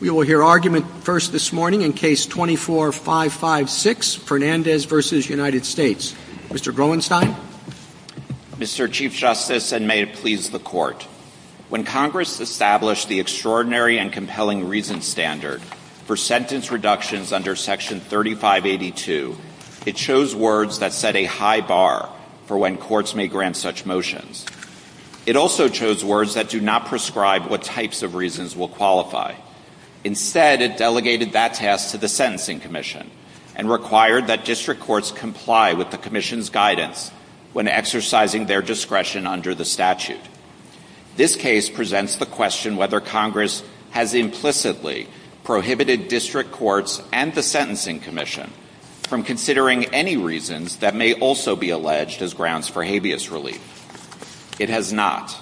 We will hear argument first this morning in Case 24-556, Fernandez v. United States. Mr. Groenstein? Mr. Chief Justice, and may it please the Court, when Congress established the Extraordinary and Compelling Reason Standard for sentence reductions under Section 3582, it chose words that set a high bar for when courts may grant such motions. It also chose words that do not prescribe what types of reasons will qualify. Instead, it delegated that task to the Sentencing Commission and required that district courts comply with the Commission's guidance when exercising their discretion under the statute. This case presents the question whether Congress has implicitly prohibited district courts and the Sentencing Commission from considering any reasons that may also be alleged as grounds for habeas relief. It has not.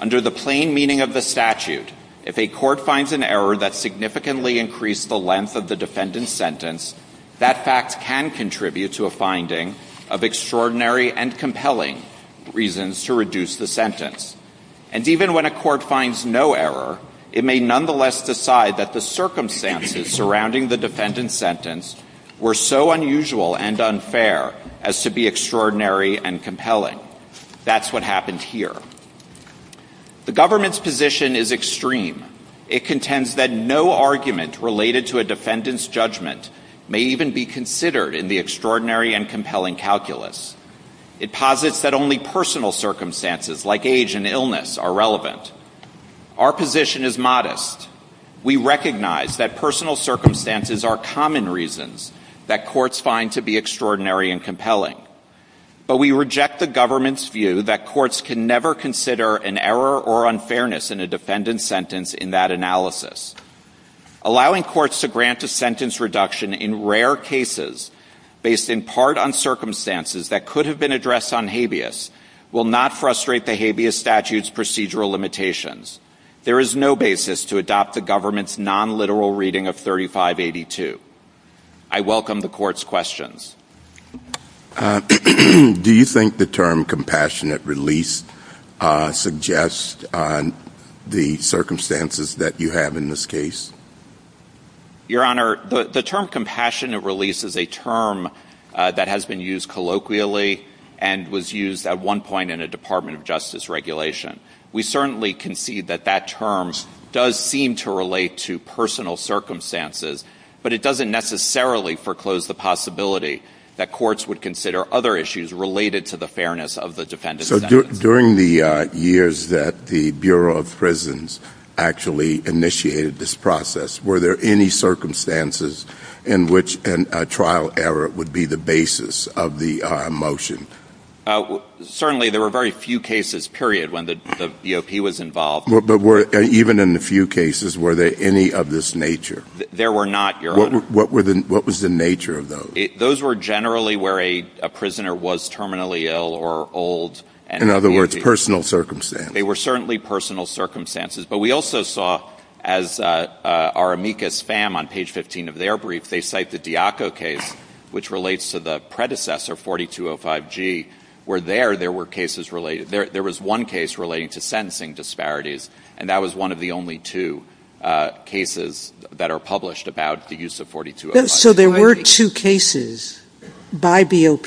Under the plain meaning of the statute, if a court finds an error that significantly increased the length of the defendant's sentence, that fact can contribute to a finding of extraordinary and compelling reasons to reduce the sentence. And even when a court finds no error, it may nonetheless decide that the circumstances surrounding the defendant's sentence were so unusual and unfair as to be extraordinary and compelling. That's what happened here. The government's position is extreme. It contends that no argument related to a defendant's judgment may even be considered in the extraordinary and compelling calculus. It posits that only personal circumstances, like age and illness, are relevant. Our position is modest. We recognize that personal circumstances are common reasons that courts find to be extraordinary and compelling. But we reject the government's view that courts can never consider an error or unfairness in a defendant's sentence in that analysis. Allowing courts to grant a sentence reduction in rare cases based in part on circumstances that could have been addressed on habeas will not frustrate the habeas statute's procedural limitations. There is no basis to adopt the government's non-literal reading of 3582. I welcome the court's questions. Do you think the term compassionate release suggests the circumstances that you have in this case? Your Honor, the term compassionate release is a term that has been used colloquially and was used at one point in a Department of Justice regulation. We certainly concede that that term does seem to relate to personal circumstances, but it doesn't necessarily foreclose the possibility that courts would consider other issues related to the fairness of the defendant's sentence. During the years that the Bureau of Prisons actually initiated this process, were there any circumstances in which a trial error would be the basis of the motion? Certainly, there were very few cases, period, when the DOP was involved. Even in the few cases, were there any of this nature? There were not, Your Honor. What was the nature of those? Those were generally where a prisoner was terminally ill or old. In other words, personal circumstances. They were certainly personal circumstances, but we also saw, as our amicus fam on page 15 of their brief, they cite the Diaco case, which relates to the predecessor, 4205G, where there was one case relating to sentencing disparities, and that was one of the only two cases that are published about the use of 4205G. There were two cases by DOP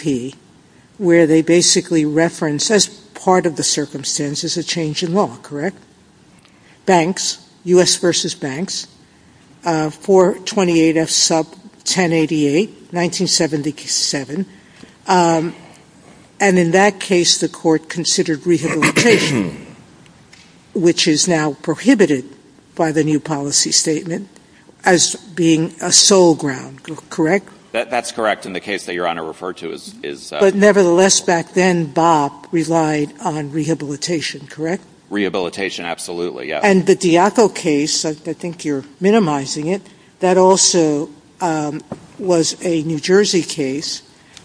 where they basically referenced as part of the circumstances a change in law, correct? Banks, U.S. v. Banks, 428F sub 1088, 1977, and in that case, the court considered rehabilitation, which is now prohibited by the new policy statement, as being a sole ground, correct? That's correct, and the case that Your Honor referred to is— But nevertheless, back then, DOP relied on rehabilitation, correct? Rehabilitation, absolutely, yes. And the Diaco case, I think you're minimizing it, that also was a New Jersey case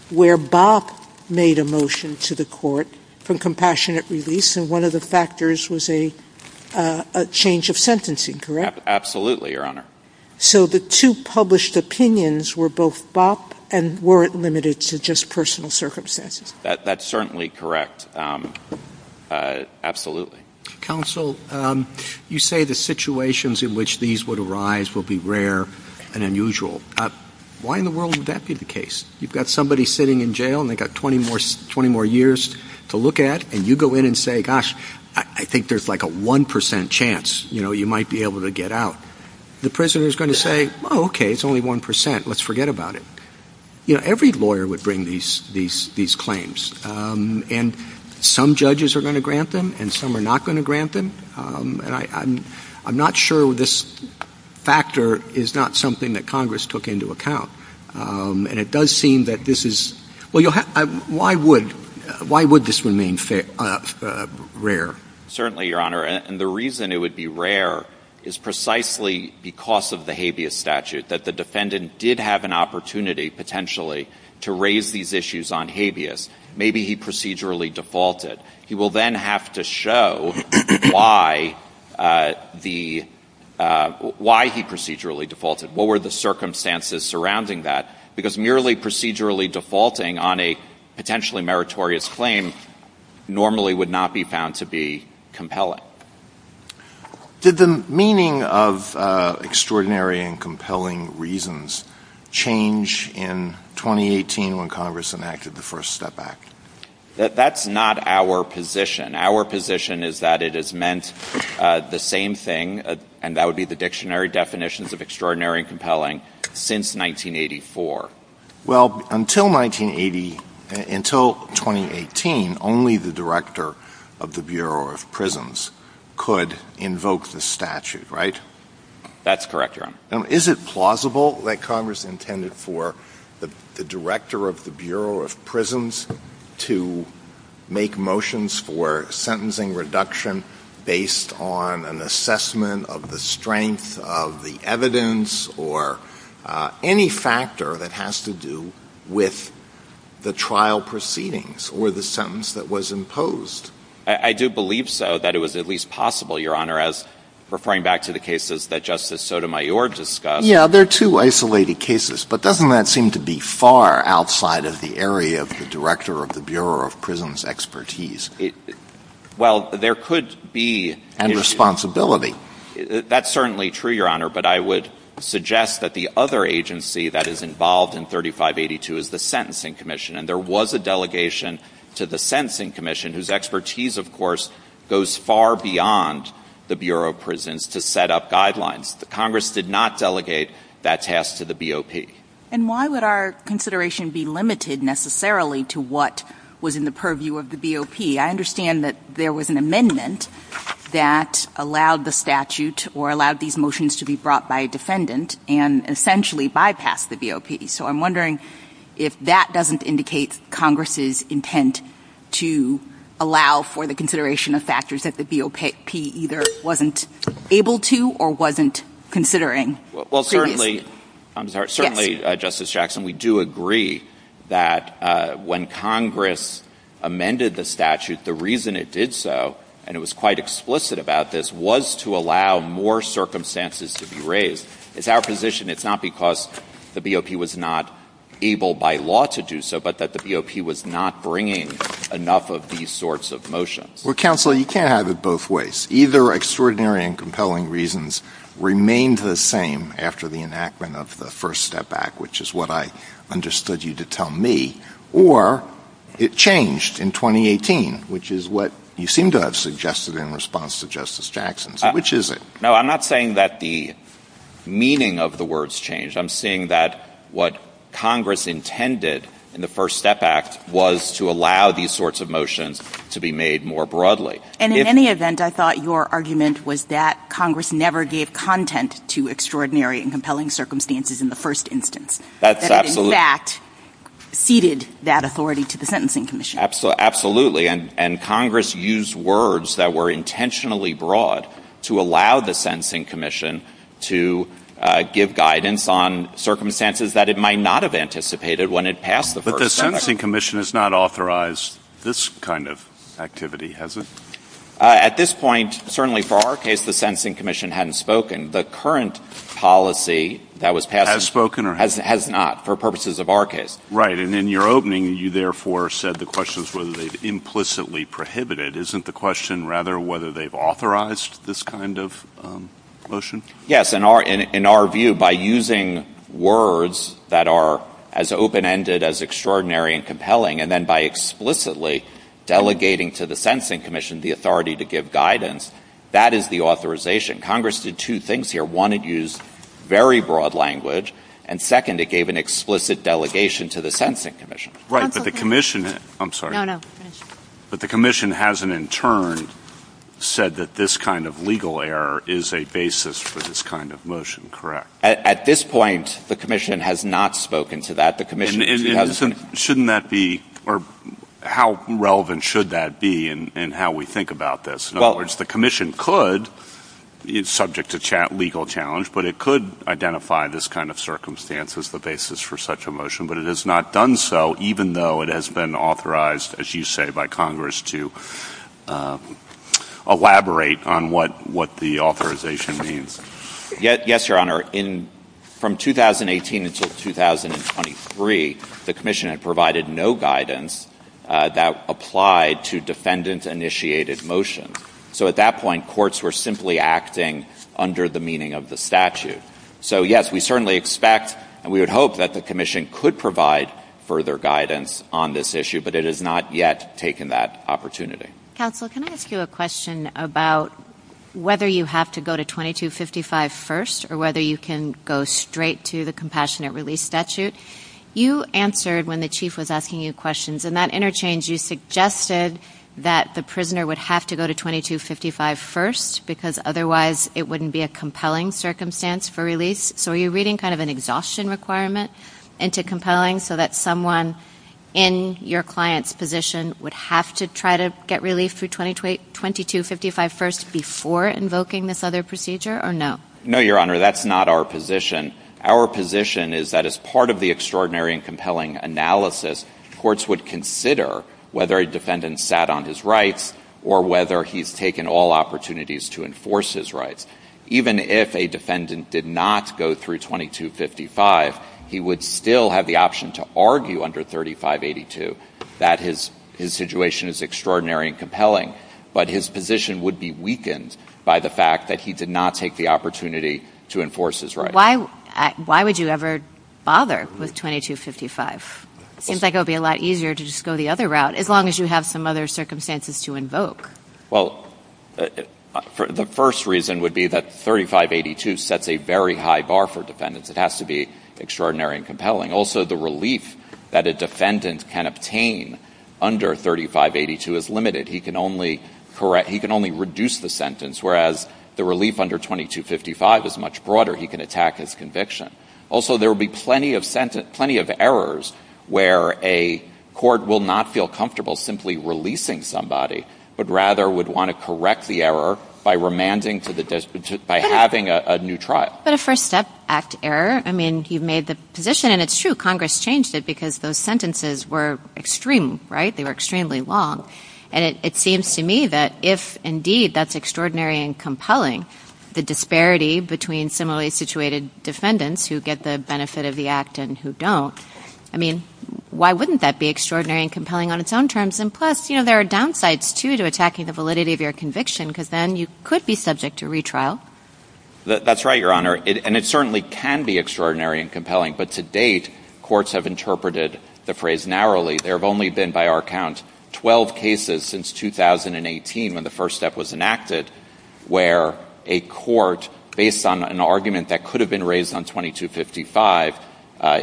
where BOP made a motion to the court for compassionate release, and one of the factors was a change of sentencing, correct? Absolutely, Your Honor. So the two published opinions were both BOP and weren't limited to just personal circumstances? That's certainly correct, absolutely. Counsel, you say the situations in which these would arise will be rare and unusual. Why in the world would that be the case? You've got somebody sitting in jail and they've got 20 more years to look at, and you go in and say, gosh, I think there's like a 1% chance, you know, you might be able to get out. The prisoner is going to say, oh, okay, it's only 1%, let's forget about it. You know, every lawyer would bring these claims, and some judges are going to grant them and some are not going to grant them, and I'm not sure this factor is not something that Congress took into account. And it does seem that this is, well, why would this remain rare? Certainly, Your Honor, and the reason it would be rare is precisely because of the habeas statute, that the defendant did have an opportunity potentially to raise these issues on habeas. Maybe he procedurally defaulted. He will then have to show why he procedurally defaulted. What were the circumstances surrounding that? Because merely procedurally defaulting on a potentially meritorious claim normally would not be found to be compelling. Did the meaning of extraordinary and compelling reasons change in 2018 when Congress enacted the First Step Act? That's not our position. Our position is that it has meant the same thing, and that would be the dictionary definitions of extraordinary and compelling, since 1984. Well, until 1980, until 2018, only the director of the Bureau of Prisons could invoke the statute, right? That's correct, Your Honor. Now, is it plausible that Congress intended for the director of the Bureau of Prisons to make motions for sentencing reduction based on an assessment of the strength of the evidence or any factor that has to do with the trial proceedings or the sentence that was imposed? I do believe so, that it was at least possible, Your Honor, as referring back to the cases that Justice Sotomayor discussed. Yeah, they're two isolated cases. But doesn't that seem to be far outside of the area of the director of the Bureau of Prisons' expertise? Well, there could be... And responsibility. That's certainly true, Your Honor. But I would suggest that the other agency that is involved in 3582 is the Sentencing Commission. And there was a delegation to the Sentencing Commission whose expertise, of course, goes far beyond the Bureau of Prisons to set up guidelines. But Congress did not delegate that task to the BOP. And why would our consideration be limited, necessarily, to what was in the purview of the BOP? I understand that there was an amendment that allowed the statute or allowed these motions to be brought by a defendant and essentially bypassed the BOP. So I'm wondering if that doesn't indicate Congress's intent to allow for the consideration of factors that the BOP either wasn't able to or wasn't considering. Well, certainly, I'm sorry. Certainly, Justice Jackson, we do agree that when Congress amended the statute, the reason it did so, and it was quite explicit about this, was to allow more circumstances to be It's our position it's not because the BOP was not able by law to do so, but that the BOP was not bringing enough of these sorts of motions. Well, counsel, you can't have it both ways. Either extraordinary and compelling reasons remained the same after the enactment of the First Step Act, which is what I understood you to tell me, or it changed in 2018, which is what you seem to have suggested in response to Justice Jackson. Which is it? No, I'm not saying that the meaning of the words changed. I'm saying that what Congress intended in the First Step Act was to allow these sorts of motions to be made more broadly. And in any event, I thought your argument was that Congress never gave content to extraordinary and compelling circumstances in the first instance. That in fact, ceded that authority to the Sentencing Commission. Absolutely, and Congress used words that were intentionally broad to allow the Sentencing Commission to give guidance on circumstances that it might not have anticipated when it passed the First Step Act. But the Sentencing Commission has not authorized this kind of activity, has it? At this point, certainly for our case, the Sentencing Commission hadn't spoken. The current policy that was passed— Has spoken or— Has not, for purposes of our case. Right, and in your opening, you therefore said the question is whether they've implicitly prohibited. Isn't the question rather whether they've authorized this kind of motion? Yes, in our view, by using words that are as open-ended as extraordinary and compelling, and then by explicitly delegating to the Sentencing Commission the authority to give guidance, that is the authorization. Congress did two things here. One, it used very broad language, and second, it gave an explicit delegation to the Sentencing Commission. Right, but the commission—I'm sorry. No, no, finish. But the commission hasn't, in turn, said that this kind of legal error is a basis for this kind of motion, correct? At this point, the commission has not spoken to that. The commission— Shouldn't that be—or how relevant should that be in how we think about this? In other words, the commission could—it's subject to legal challenge, but it could identify this kind of circumstance as the basis for such a motion, but it has not done so, even though it has been authorized, as you say, by Congress to elaborate on what the authorization means. Yes, Your Honor. From 2018 until 2023, the commission had provided no guidance that applied to defendant-initiated motions. So at that point, courts were simply acting under the meaning of the statute. So, yes, we certainly expect and we would hope that the commission could provide further guidance on this issue, but it has not yet taken that opportunity. Counsel, can I ask you a question about whether you have to go to 2255 first or whether you can go straight to the compassionate release statute? You answered when the chief was asking you questions. In that interchange, you suggested that the prisoner would have to go to 2255 first because otherwise it wouldn't be a compelling circumstance for release. So are you reading kind of an exhaustion requirement into compelling so that someone in your client's position would have to try to get relief through 2255 first before invoking this other procedure or no? No, Your Honor, that's not our position. Our position is that as part of the extraordinary and compelling analysis, courts would consider whether a defendant sat on his rights or whether he's taken all opportunities to enforce his rights. Even if a defendant did not go through 2255, he would still have the option to argue under 3582 that his situation is extraordinary and compelling, but his position would be weakened by the fact that he did not take the opportunity to enforce his rights. Why would you ever bother with 2255? It seems like it would be a lot easier to just go the other route as long as you have some other circumstances to invoke. Well, the first reason would be that 3582 sets a very high bar for defendants. It has to be extraordinary and compelling. Also, the relief that a defendant can obtain under 3582 is limited. He can only reduce the sentence, whereas the relief under 2255 is much broader. He can attack his conviction. Also, there will be plenty of errors where a court will not feel comfortable simply releasing somebody, but rather would want to correct the error by remanding to the disposition by having a new trial. But a First Act error, I mean, he made the position, and it's true, Congress changed it because those sentences were extreme, right? They were extremely long. And it seems to me that if, indeed, that's extraordinary and compelling, the disparity between similarly situated defendants who get the benefit of the act and who don't, I mean, why wouldn't that be extraordinary and compelling on its own terms? And plus, you know, there are downsides, too, to attacking the validity of your conviction because then you could be subject to retrial. That's right, Your Honor. And it certainly can be extraordinary and compelling. But to date, courts have interpreted the phrase narrowly. There have only been, by our count, 12 cases since 2018 when the first step was enacted where a court, based on an argument that could have been raised on 2255,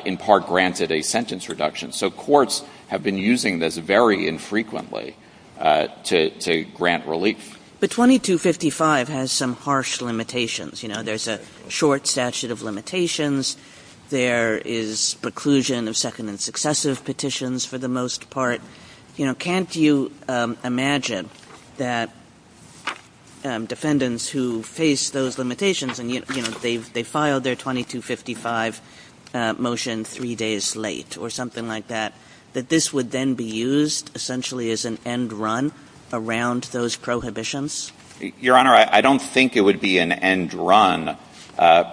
in part granted a sentence reduction. So courts have been using this very infrequently to grant relief. But 2255 has some harsh limitations. You know, there's a short statute of limitations. There is preclusion of second and successive petitions, for the most part. You know, can't you imagine that defendants who face those limitations and, you know, they filed their 2255 motion three days late or something like that, that this would then be used essentially as an end run around those prohibitions? Your Honor, I don't think it would be an end run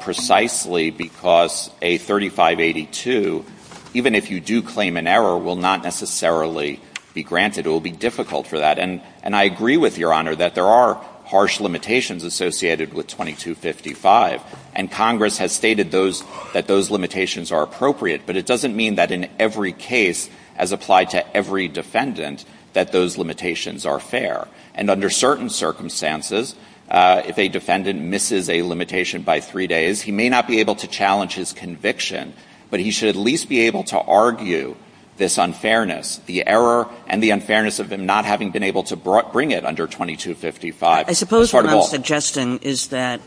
precisely because a 3582, even if you do claim an error, will not necessarily be granted. It will be difficult for that. And I agree with Your Honor that there are harsh limitations associated with 2255. And Congress has stated that those limitations are appropriate. But it doesn't mean that in every case, as applied to every defendant, that those limitations are fair. And under certain circumstances, if a defendant misses a limitation by three days, he may not be able to challenge his conviction. But he should at least be able to argue this unfairness, the error and the unfairness of him not having been able to bring it under 2255. I suppose what I'm suggesting is that,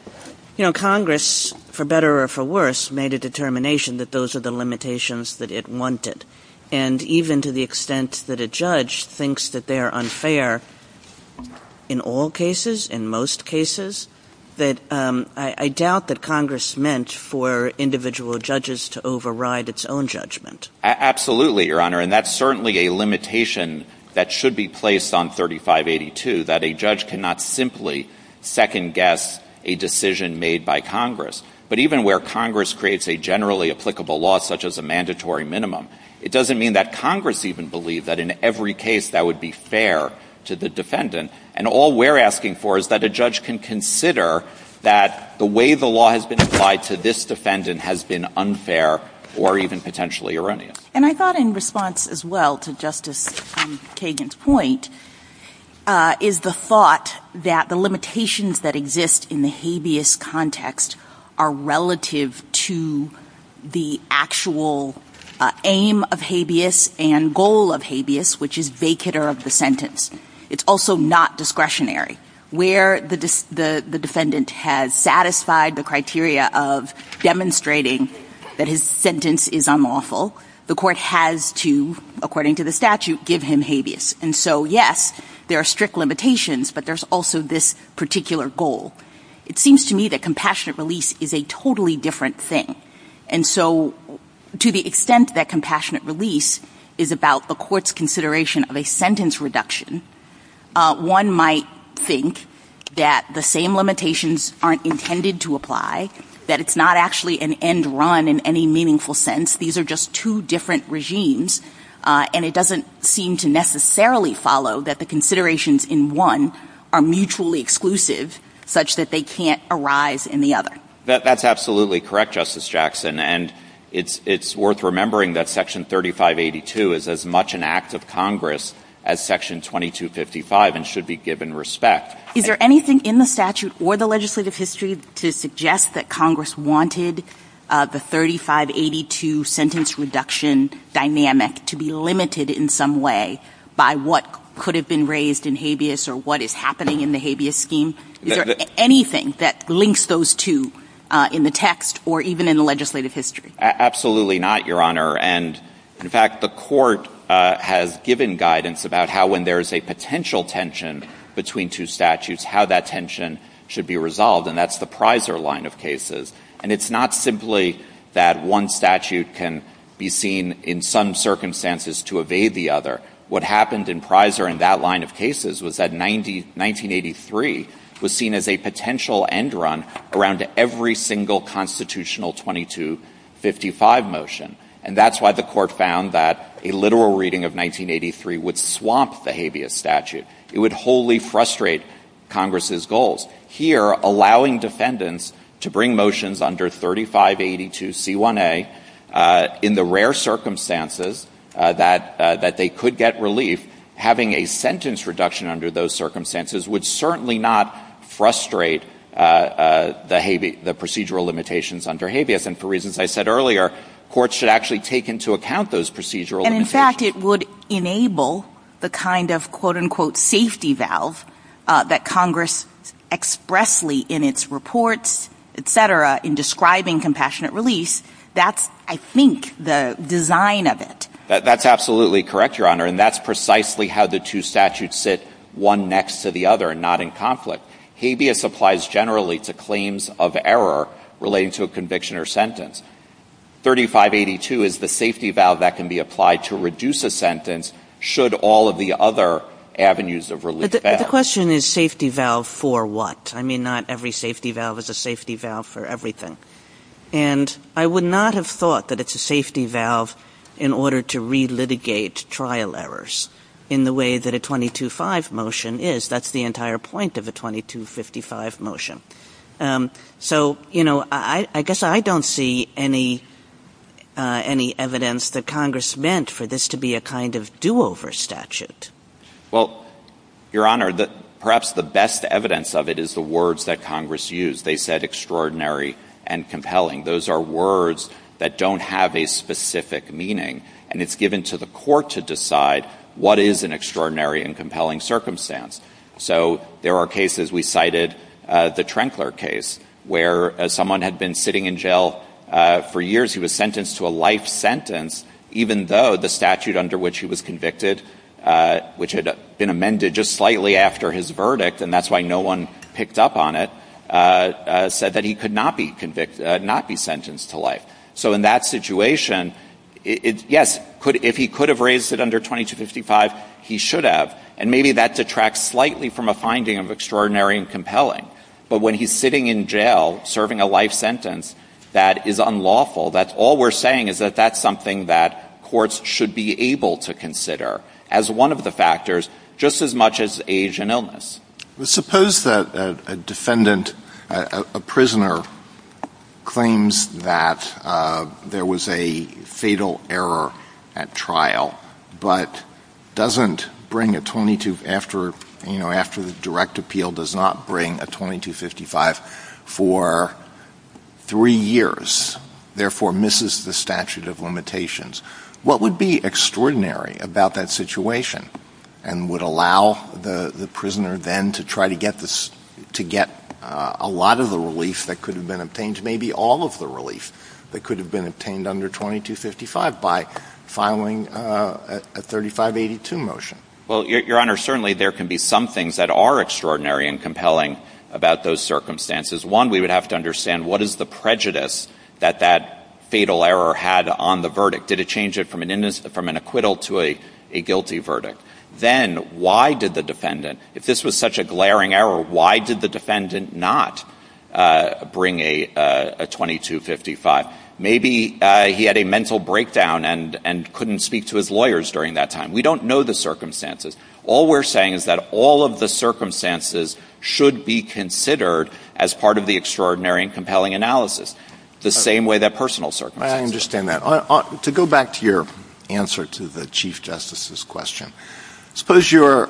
you know, Congress, for better or for worse, made a determination that those are the limitations that it wanted. And even to the extent that a judge thinks that they're unfair in all cases, in most cases, that I doubt that Congress meant for individual judges to override its own judgment. Absolutely, Your Honor. And that's certainly a limitation that should be placed on 3582, that a judge cannot simply second-guess a decision made by Congress. But even where Congress creates a generally applicable law, such as a mandatory minimum, it doesn't mean that Congress even believed that in every case that would be fair to the defendant. And all we're asking for is that a judge can consider that the way the law has been applied to this defendant has been unfair or even potentially erroneous. And I thought in response as well to Justice Kagan's point is the thought that the limitations that exist in the habeas context are relative to the actual aim of habeas and goal of habeas, which is vacater of the sentence. It's also not discretionary. Where the defendant has satisfied the criteria of demonstrating that his sentence is unlawful, the court has to, according to the statute, give him habeas. And so, yes, there are strict limitations, but there's also this particular goal. It seems to me that compassionate release is a totally different thing. And so to the extent that compassionate release is about the court's consideration of a sentence reduction, one might think that the same limitations aren't intended to apply, that it's not actually an end run in any meaningful sense. These are just two different regimes, and it doesn't seem to necessarily follow that the considerations in one are mutually exclusive such that they can't arise in the other. That's absolutely correct, Justice Jackson. And it's worth remembering that Section 3582 is as much an act of Congress as Section 2255 and should be given respect. Is there anything in the statute or the legislative history to suggest that Congress wanted the 3582 sentence reduction dynamic to be limited in some way by what could have been raised in habeas or what is happening in the habeas scheme? Is there anything that links those two in the text or even in the legislative history? Absolutely not, Your Honor. And, in fact, the court has given guidance about how, when there's a potential tension between two statutes, how that tension should be resolved. And that's the Prizer line of cases. And it's not simply that one statute can be seen in some circumstances to evade the other. What happened in Prizer in that line of cases was that 1983 was seen as a potential end run around every single constitutional 2255 motion. And that's why the court found that a literal reading of 1983 would swamp the habeas statute. It would wholly frustrate Congress's goals. Here, allowing defendants to bring motions under 3582c1a in the rare circumstances that they could get relief, having a sentence reduction under those circumstances would certainly not frustrate the procedural limitations under habeas. And for reasons I said earlier, courts should actually take into account those procedural In fact, it would enable the kind of, quote, unquote, safety valve that Congress expressly in its reports, et cetera, in describing compassionate release. That's, I think, the design of it. That's absolutely correct, Your Honor. And that's precisely how the two statutes sit one next to the other and not in conflict. Habeas applies generally to claims of error relating to a conviction or sentence. 3582 is the safety valve that can be applied to reduce a sentence should all of the other avenues of relief. But the question is safety valve for what? I mean, not every safety valve is a safety valve for everything. And I would not have thought that it's a safety valve in order to re-litigate trial errors in the way that a 225 motion is. That's the entire point of a 2255 motion. So, you know, I guess I don't see any evidence that Congress meant for this to be a kind of do-over statute. Well, Your Honor, perhaps the best evidence of it is the words that Congress used. They said extraordinary and compelling. Those are words that don't have a specific meaning. And it's given to the court to decide what is an extraordinary and compelling circumstance. So there are cases, we cited the Trenkler case, where someone had been sitting in jail for years. He was sentenced to a life sentence, even though the statute under which he was convicted, which had been amended just slightly after his verdict, and that's why no one picked up on it, said that he could not be convicted, not be sentenced to life. So in that situation, yes, if he could have raised it under 2255, he should have. And maybe that detracts slightly from a finding of extraordinary and compelling. But when he's sitting in jail serving a life sentence that is unlawful, that's all we're saying is that that's something that courts should be able to consider as one of the factors, just as much as age and illness. Suppose that a defendant, a prisoner, claims that there was a fatal error at trial, but doesn't bring a 22, after the direct appeal, does not bring a 2255 for three years, therefore misses the statute of limitations. What would be extraordinary about that situation and would allow the prisoner then to try to get a lot of the relief that could have been obtained, maybe all of the relief that could have been obtained by the motion? Well, Your Honor, certainly there can be some things that are extraordinary and compelling about those circumstances. One, we would have to understand what is the prejudice that that fatal error had on the verdict? Did it change it from an acquittal to a guilty verdict? Then why did the defendant, if this was such a glaring error, why did the defendant not bring a 2255? Maybe he had a mental breakdown and couldn't speak to his lawyers during that time. We don't know the circumstances. All we're saying is that all of the circumstances should be considered as part of the extraordinary and compelling analysis, the same way that personal circumstances. I understand that. To go back to your answer to the Chief Justice's question, suppose you're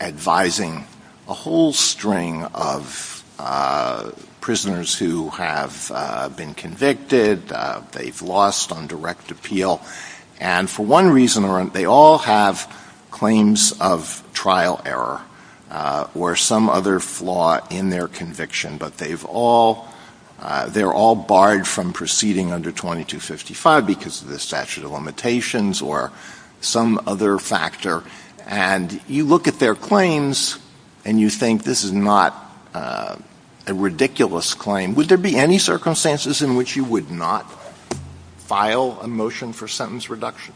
advising a whole string of prisoners who have been convicted, they've lost on direct appeal, and for one reason or another, they all have claims of trial error or some other flaw in their conviction, but they're all barred from proceeding under 2255 because of the statute of limitations or some other factor, and you look at their claims and you think this is not a ridiculous claim. Would there be any circumstances in which you would not file a motion for sentence reduction?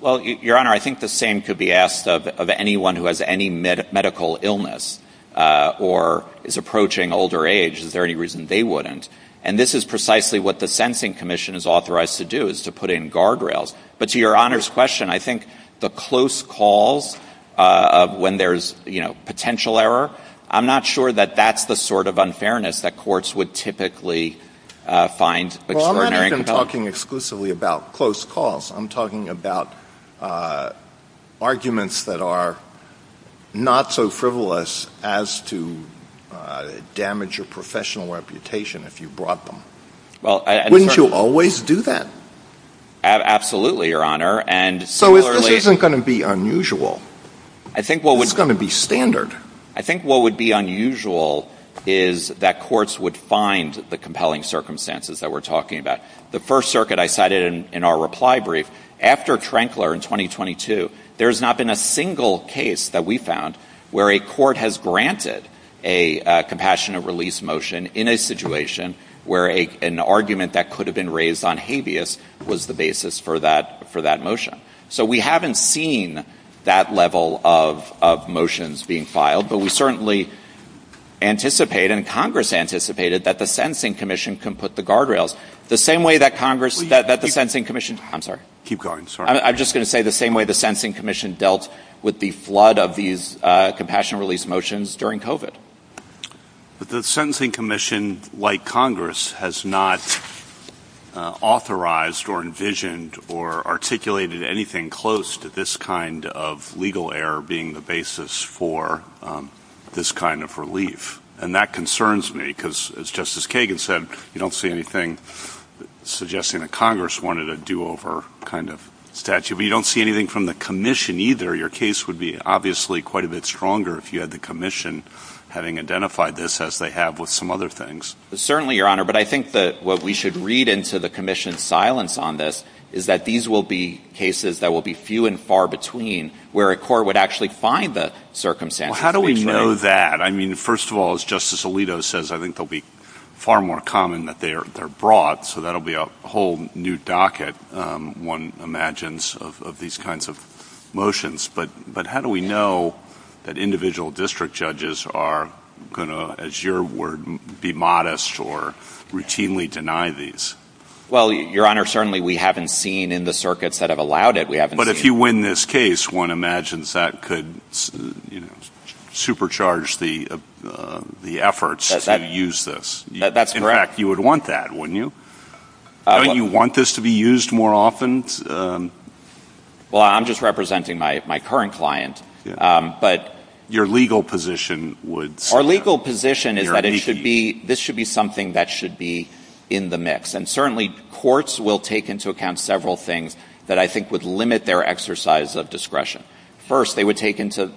Well, Your Honor, I think the same could be asked of anyone who has any medical illness or is approaching older age. Is there any reason they wouldn't? And this is precisely what the Sensing Commission is authorized to do, is to put in guardrails. But to Your Honor's question, I think the close calls of when there's potential error, I'm not sure that that's the sort of unfairness that courts would typically find. Well, I'm not even talking exclusively about close calls. I'm talking about arguments that are not so frivolous as to damage your professional reputation if you brought them. Wouldn't you always do that? Absolutely, Your Honor. And so this isn't going to be unusual. I think what was going to be standard. I think what would be unusual is that courts would find the compelling circumstances that we're talking about. The First Circuit, I cited in our reply brief, after Trankler in 2022, there's not been a single case that we found where a court has granted a compassionate release motion in a situation where an argument that could have been raised on habeas was the basis for that motion. So we haven't seen that level of motions being filed. But we certainly anticipate, and Congress anticipated, that the Sentencing Commission can put the guardrails. The same way that Congress, that the Sentencing Commission, I'm sorry, I'm just going to say the same way the Sentencing Commission dealt with the flood of these compassionate release motions during COVID. But the Sentencing Commission, like Congress, has not authorized or envisioned or articulated anything close to this kind of legal error being the basis for this kind of relief. And that concerns me because, as Justice Kagan said, you don't see anything suggesting that Congress wanted a do-over kind of statute. But you don't see anything from the Commission either. Your case would be obviously quite a bit stronger if you had the Commission having identified this as they have with some other things. Certainly, Your Honor. But I think that what we should read into the Commission's silence on this is that these will be cases that will be few and far between, where a court would actually find the circumstances. How do we know that? I mean, first of all, as Justice Alito says, I think they'll be far more common that they are brought. So that'll be a whole new docket, one imagines, of these kinds of motions. But how do we know that individual district judges are going to, as your word, be modest or routinely deny these? Well, Your Honor, certainly we haven't seen in the circuits that have allowed it. But if you win this case, one imagines that could supercharge the efforts to use this. That's correct. In fact, you would want that, wouldn't you? Don't you want this to be used more often? Well, I'm just representing my current client. Our legal position is that this should be something that should be in the mix. Certainly, courts will take into account several things that I think would limit their exercise of discretion. First, they would take into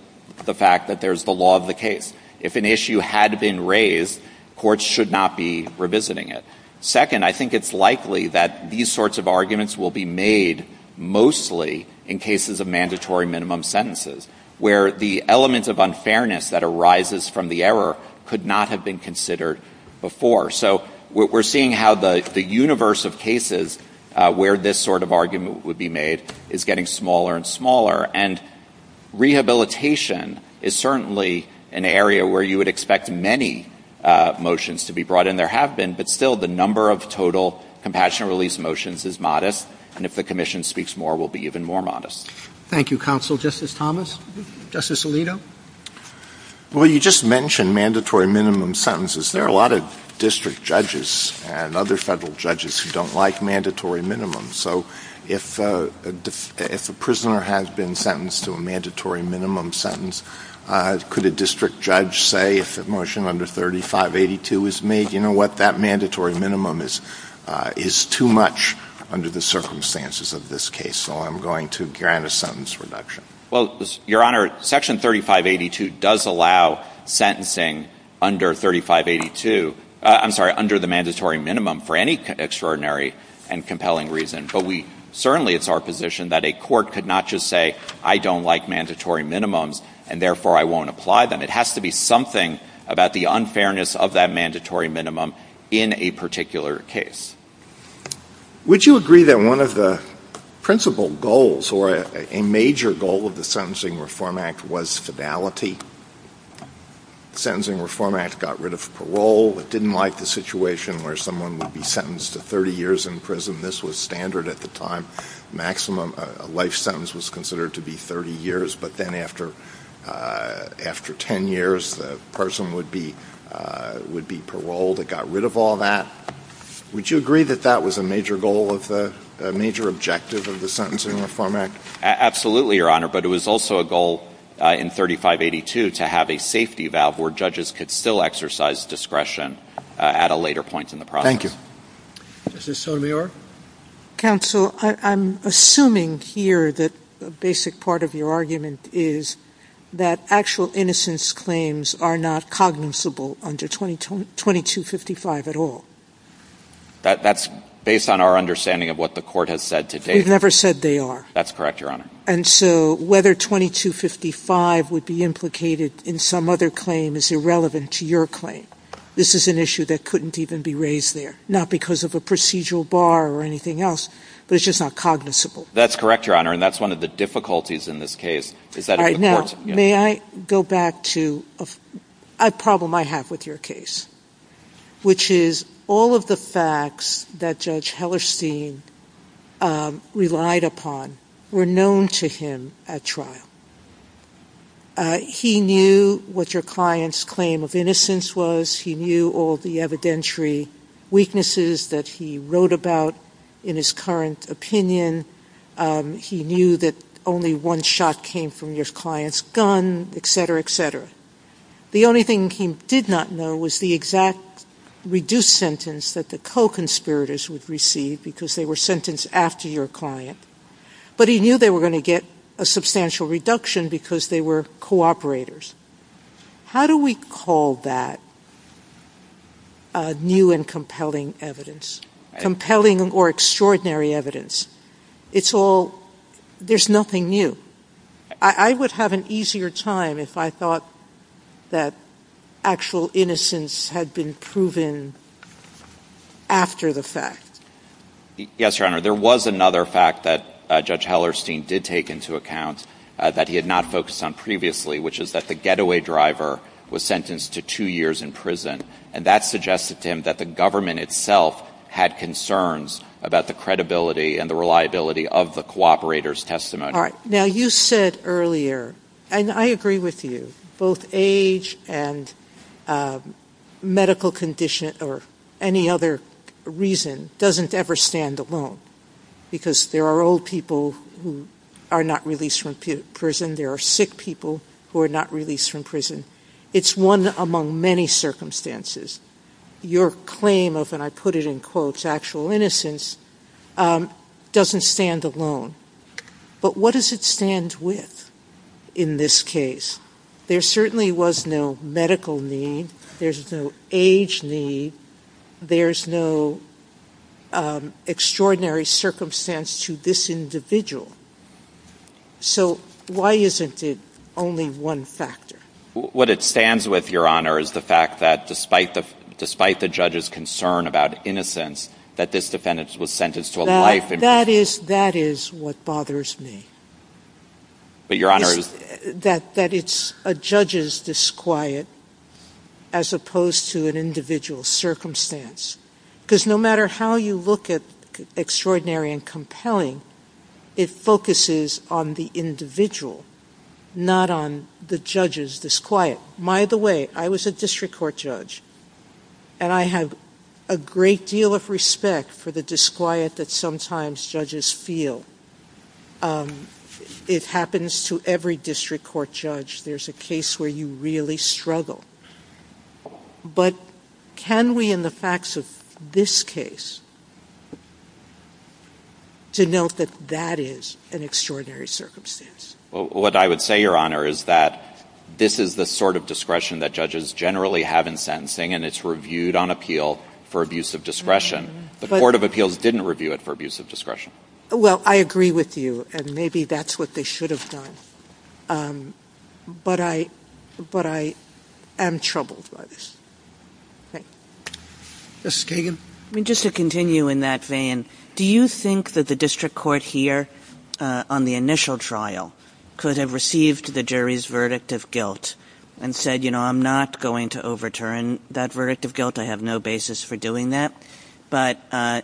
the fact that there's the law of the case. If an issue had been raised, courts should not be revisiting it. Second, I think it's likely that these sorts of arguments will be made mostly in cases of mandatory minimum sentences, where the element of unfairness that arises from the error could not have been considered before. So we're seeing how the universe of cases where this sort of argument would be made is getting smaller and smaller. And rehabilitation is certainly an area where you would expect many motions to be brought in. There have been, but still the number of total compassionate release motions is modest. And if the Commission speaks more, we'll be even more modest. Thank you, Counsel. Justice Thomas? Justice Alito? Well, you just mentioned mandatory minimum sentences. There are a lot of district judges and other federal judges who don't like mandatory minimums. So if a prisoner has been sentenced to a mandatory minimum sentence, could a district judge say if a motion under 3582 is made, you know what, that mandatory minimum is too much under the circumstances of this case. So I'm going to grant a sentence reduction. Well, Your Honor, Section 3582 does allow sentencing under the mandatory minimum for any extraordinary and compelling reason. But certainly it's our position that a court could not just say, I don't like mandatory minimums, and therefore I won't apply them. It has to be something about the unfairness of that mandatory minimum in a particular case. Would you agree that one of the principal goals or a major goal of the Sentencing Reform Act was fidelity? The Sentencing Reform Act got rid of parole. It didn't like the situation where someone would be sentenced to 30 years in prison. This was standard at the time. Maximum life sentence was considered to be 30 years. But then after 10 years, the person would be paroled. It got rid of all that. Would you agree that that was a major goal, a major objective of the Sentencing Reform Act? Absolutely, Your Honor. But it was also a goal in 3582 to have a safety valve where judges could still exercise discretion at a later point in the process. Thank you. Justice Sotomayor? Counsel, I'm assuming here that a basic part of your argument is that actual innocence claims are not cognizable under 2255 at all. That's based on our understanding of what the court has said to date. They've never said they are. That's correct, Your Honor. And so whether 2255 would be implicated in some other claim is irrelevant to your claim. This is an issue that couldn't even be raised there, not because of a procedural bar or anything else, but it's just not cognizable. That's correct, Your Honor. And that's one of the difficulties in this case. All right, now may I go back to a problem I have with your case, which is all of the facts that Judge Hellerstein relied upon were known to him at trial. He knew what your client's claim of innocence was. He knew all the evidentiary weaknesses that he wrote about in his current opinion. He knew that only one shot came from your client's gun, et cetera, et cetera. The only thing he did not know was the exact reduced sentence that the co-conspirators would receive because they were sentenced after your client, but he knew they were going to get a substantial reduction because they were co-operators. How do we call that new and compelling evidence, compelling or extraordinary evidence? It's all, there's nothing new. I would have an easier time if I thought that actual innocence had been proven after the fact. Yes, Your Honor. There was another fact that Judge Hellerstein did take into account that he had not focused on previously, which is that the getaway driver was sentenced to two years in prison, and that suggested to him that the government itself had concerns about the credibility and the reliability of the co-operator's testimony. Now, you said earlier, and I agree with you, both age and medical condition or any other reason doesn't ever stand alone because there are old people who are not released from prison. There are sick people who are not released from prison. It's one among many circumstances. Your claim of, and I put it in quotes, actual innocence doesn't stand alone. But what does it stand with in this case? There certainly was no medical need. There's no age need. There's no extraordinary circumstance to this individual. So why isn't it only one factor? What it stands with, Your Honor, is the fact that despite the judge's concern about innocence, that this defendant was sentenced to a life in prison. That is what bothers me, that it's a judge's disquiet as opposed to an individual circumstance. Because no matter how you look at extraordinary and compelling, it focuses on the individual, not on the judge's disquiet. By the way, I was a district court judge, and I have a great deal of respect for the disquiet judges feel. It happens to every district court judge. There's a case where you really struggle. But can we, in the facts of this case, denote that that is an extraordinary circumstance? Well, what I would say, Your Honor, is that this is the sort of discretion that judges generally have in sentencing, and it's reviewed on appeal for abuse of discretion. The Court of Appeals didn't review it for abuse of discretion. Well, I agree with you, and maybe that's what they should have done. But I am troubled by this. Justice Kagan? Just to continue in that vein, do you think that the district court here on the initial trial could have received the jury's verdict of guilt and said, you know, I'm not going to overturn that verdict of guilt? I have no basis for doing that. But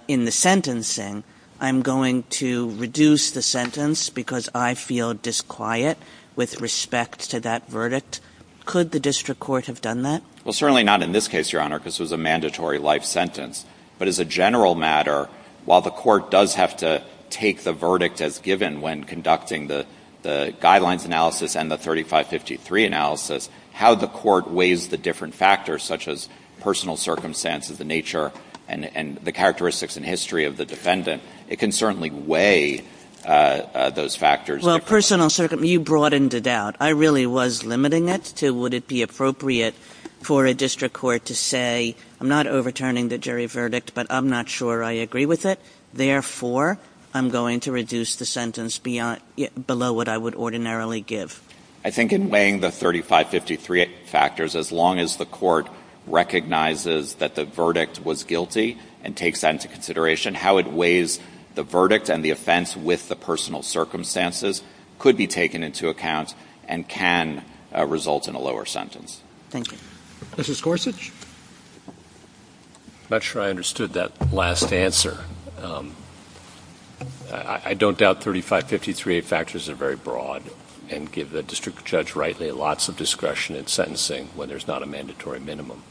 in the sentencing, I'm going to reduce the sentence because I feel disquiet with respect to that verdict. Could the district court have done that? Well, certainly not in this case, Your Honor, because it was a mandatory life sentence. But as a general matter, while the court does have to take the verdict as given when conducting the guidelines analysis and the 3553 analysis, how the court weighs the different factors, such as personal circumstances, the nature and the characteristics and history of the defendant, it can certainly weigh those factors. Well, personal circumstances, you broadened it out. I really was limiting it to would it be appropriate for a district court to say, I'm not overturning the jury verdict, but I'm not sure I agree with it. Therefore, I'm going to reduce the sentence below what I would ordinarily give. I think in weighing the 3553 factors, as long as the court recognizes that the verdict was guilty and takes that into consideration, how it weighs the verdict and the offense with the personal circumstances could be taken into account and can result in a lower sentence. Thank you. Justice Gorsuch? I'm not sure I understood that last answer. I don't doubt 3553 factors are very broad and give the district judge, rightly, lots of discretion in sentencing when there's not a mandatory minimum.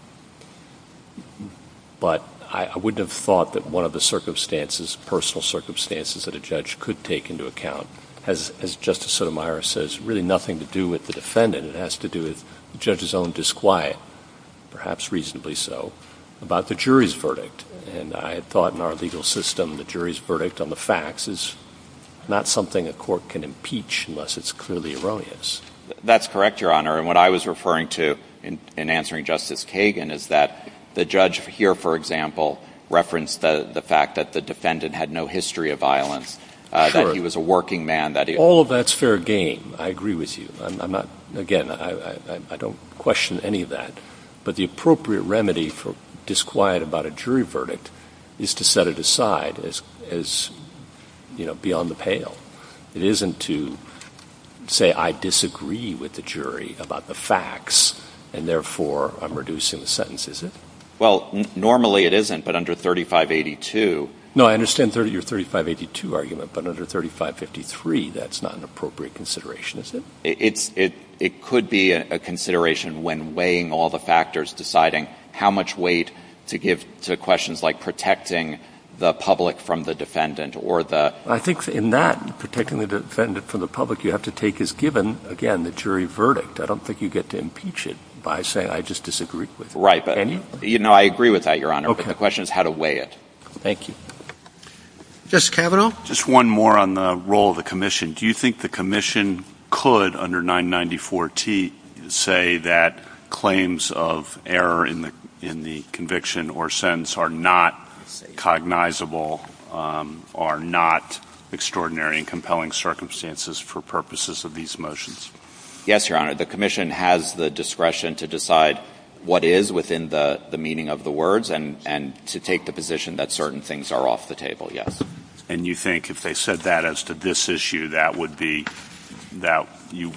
But I wouldn't have thought that one of the circumstances, personal circumstances that a judge could take into account, as Justice Sotomayor says, really nothing to do with the defendant. It has to do with the judge's own disquiet, perhaps reasonably so, about the jury's verdict. And I had thought in our legal system, the jury's verdict on the facts is not something a court can impeach unless it's clearly erroneous. That's correct, Your Honor. And what I was referring to in answering Justice Kagan is that the judge here, for example, referenced the fact that the defendant had no history of violence, that he was a working man, that he- All of that's fair game. I agree with you. I'm not, again, I don't question any of that. But the appropriate remedy for disquiet about a jury verdict is to set it aside as, you know, beyond the pale. It isn't to say, I disagree with the jury about the facts, and therefore I'm reducing the sentence, is it? Well, normally it isn't, but under 3582- No, I understand your 3582 argument, but under 3553, that's not an appropriate consideration, is it? It could be a consideration when weighing all the factors, deciding how much weight to give to questions like protecting the public from the defendant or the- I think in that, protecting the defendant from the public, you have to take as given, again, the jury verdict. I don't think you get to impeach it by saying, I just disagree with it. Right. I agree with that, Your Honor, but the question is how to weigh it. Thank you. Justice Kavanaugh? Just one more on the role of the commission. Do you think the commission could, under 994-T, say that claims of error in the conviction or sentence are not cognizable, are not extraordinary and compelling circumstances for purposes of these motions? Yes, Your Honor. The commission has the discretion to decide what is within the meaning of the words and to take the position that certain things are off the table, yes. And you think if they said that as to this issue, that would be-that you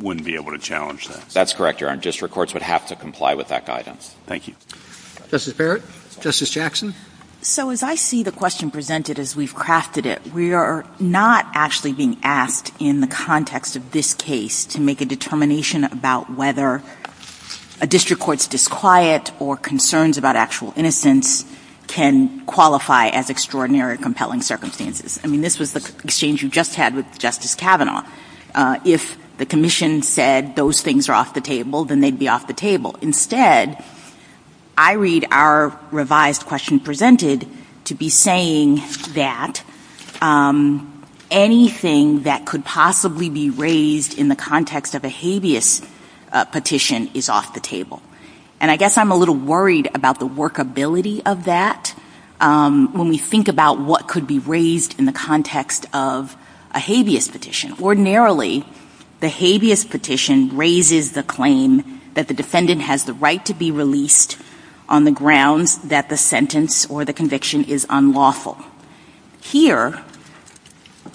wouldn't be able to challenge that? That's correct, Your Honor. District courts would have to comply with that guidance. Thank you. Justice Barrett? Justice Jackson? So as I see the question presented as we've crafted it, we are not actually being asked in the context of this case to make a determination about whether a district court's disquiet or concerns about actual innocence can qualify as extraordinary or compelling circumstances. I mean, this was the exchange you just had with Justice Kavanaugh. If the commission said those things are off the table, then they'd be off the table. Instead, I read our revised question presented to be saying that anything that could possibly be raised in the context of a habeas petition is off the table. And I guess I'm a little worried about the workability of that when we think about what could be raised in the context of a habeas petition. Ordinarily, the habeas petition raises the claim that the defendant has the right to be released on the grounds that the sentence or the conviction is unlawful. Here,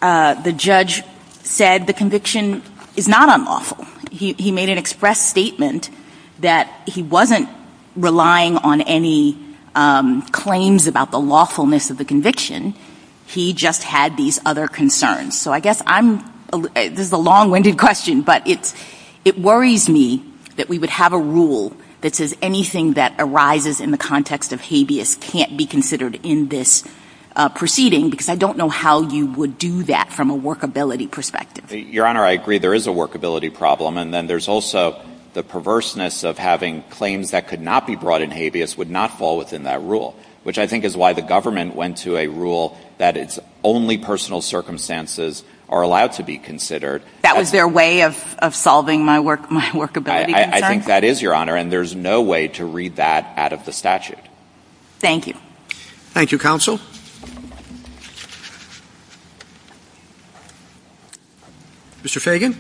the judge said the conviction is not unlawful. He made an express statement that he wasn't relying on any claims about the lawfulness of the conviction. He just had these other concerns. So I guess this is a long-winded question, but it worries me that we would have a rule that says anything that arises in the context of habeas can't be considered in this proceeding because I don't know how you would do that from a workability perspective. Your Honor, I agree there is a workability problem, and then there's also the perverseness of having claims that could not be brought in habeas would not fall within that rule, which I think is why the government went to a rule that its only personal circumstances are allowed to be considered. That was their way of solving my workability concerns? I think that is, Your Honor, and there's no way to read that out of the statute. Thank you. Thank you, Counsel. Mr. Fagan.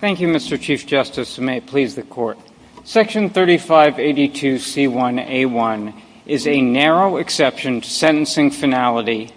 Thank you, Mr. Chief Justice, and may it please the Court. Section 3582C1A1 is a narrow exception sentencing finality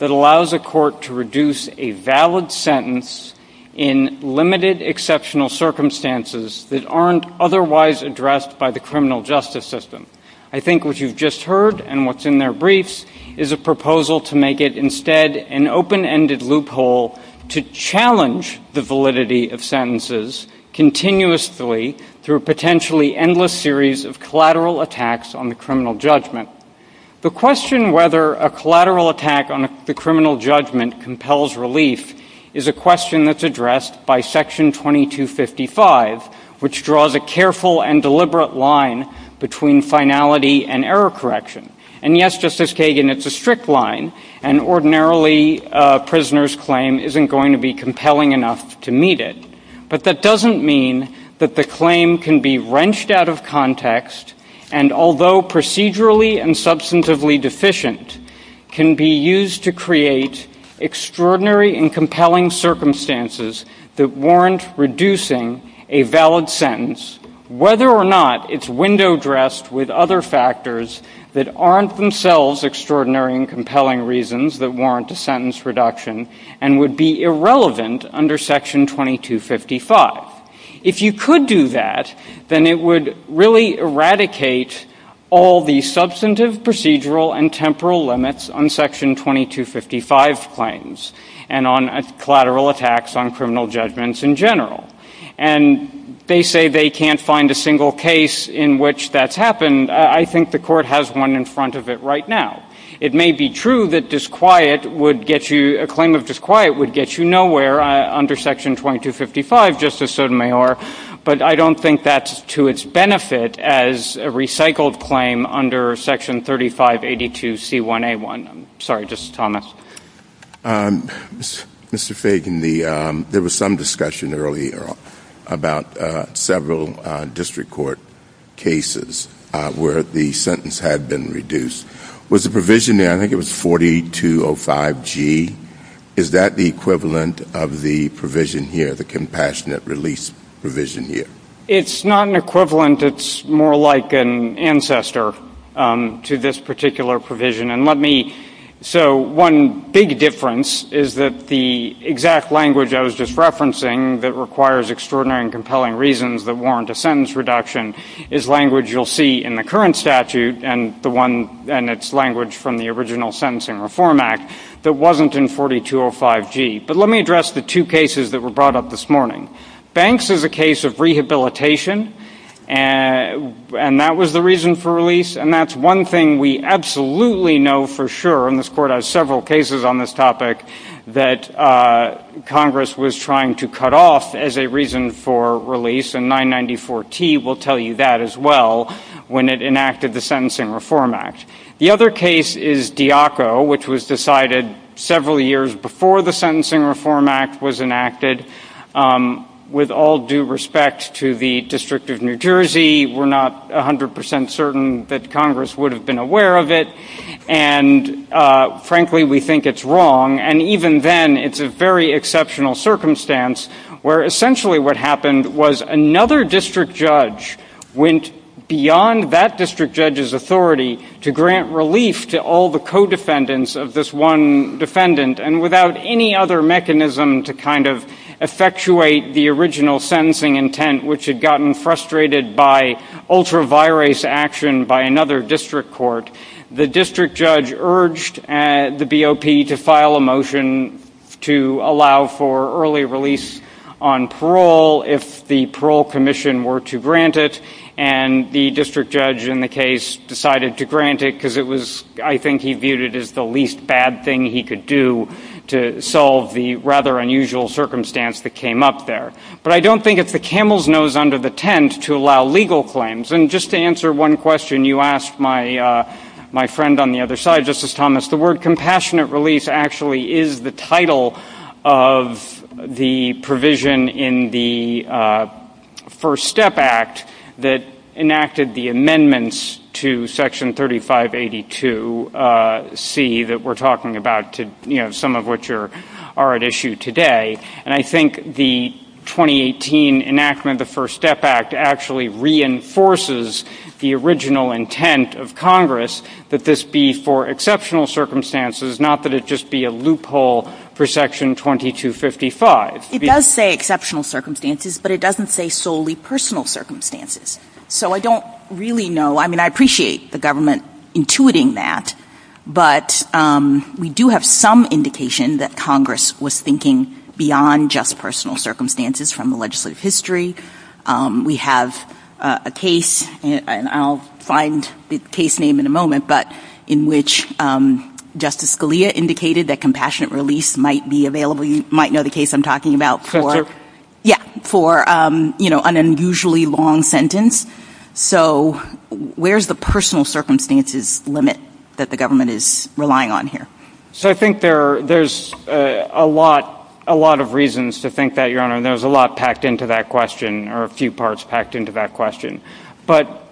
that allows a court to reduce a valid sentence in limited exceptional circumstances that aren't otherwise addressed by the criminal justice system. I think what you've just heard and what's in their briefs is a proposal to make it instead an open-ended loophole to challenge the validity of sentences continuously through a potentially endless series of collateral attacks on the criminal judgment. The question whether a collateral attack on the criminal judgment compels relief is a question that's addressed by Section 2255, which draws a careful and deliberate line between finality and error correction. And yes, Justice Kagan, it's a strict line, and ordinarily a prisoner's claim isn't going to be compelling enough to meet it, but that doesn't mean that the claim can be wrenched out of context and, although procedurally and substantively deficient, can be used to create extraordinary and compelling circumstances that warrant reducing a valid sentence, whether or not it's window-dressed with other factors that aren't themselves extraordinary and compelling reasons that warrant a sentence reduction and would be irrelevant under Section 2255. If you could do that, then it would really eradicate all the substantive, procedural, and temporal limits on Section 2255 claims and on collateral attacks on criminal judgments in general. And they say they can't find a single case in which that's happened. I think the Court has one in front of it right now. It may be true that disquiet would get you — a claim of disquiet would get you nowhere under Section 2255, Justice Sotomayor, but I don't think that's to its benefit as a recycled claim under Section 3582C1A1. I'm sorry, Justice Thomas. Mr. Fagan, there was some discussion earlier about several district court cases where the sentence had been reduced. Was the provision there — I think it was 4205G. Is that the equivalent of the provision here, the compassionate release provision here? It's not an equivalent. It's more like an ancestor to this particular provision. And let me — so one big difference is that the exact language I was just referencing that requires extraordinary and compelling reasons that warrant a sentence reduction is language you'll see in the current statute and the one — and it's language from the original Sentencing Reform Act that wasn't in 4205G. But let me address the two cases that were brought up this morning. Banks is a case of rehabilitation, and that was the reason for release. And that's one thing we absolutely know for sure — and this Court has several cases on this topic — that Congress was trying to cut off as a reason for release, and 994T will tell you that as well, when it enacted the Sentencing Reform Act. The other case is Diaco, which was decided several years before the Sentencing Reform Act was enacted. With all due respect to the District of New Jersey, we're not 100 percent certain that Congress would have been aware of it. And frankly, we think it's wrong. And even then, it's a very exceptional circumstance where essentially what happened was another district judge went beyond that district judge's authority to grant relief to all the co-defendants of this one defendant. And without any other mechanism to kind of effectuate the original sentencing intent, which had gotten frustrated by ultra-virus action by another district court, the district judge urged the BOP to file a motion to allow for early release on parole if the parole commission were to grant it. And the district judge in the case decided to grant it because it was — I think he considered it as the least bad thing he could do to solve the rather unusual circumstance that came up there. But I don't think it's the camel's nose under the tent to allow legal claims. And just to answer one question, you asked my friend on the other side, Justice Thomas, the word compassionate release actually is the title of the provision in the First Step Act that enacted the amendments to Section 3582C that we're talking about, you know, some of which are at issue today. And I think the 2018 enactment of the First Step Act actually reinforces the original intent of Congress that this be for exceptional circumstances, not that it just be a loophole for Section 2255. It does say exceptional circumstances, but it doesn't say solely personal circumstances. So I don't really know — I mean, I appreciate the government intuiting that, but we do have some indication that Congress was thinking beyond just personal circumstances from the legislative history. We have a case — and I'll find the case name in a moment — but in which Justice Scalia indicated that compassionate release might be available — you might know the case I'm talking about for — Justice — Yeah, for, you know, an unusually long sentence. So where's the personal circumstances limit that the government is relying on here? So I think there's a lot of reasons to think that, Your Honor, and there's a lot packed into that question, or a few parts packed into that question. But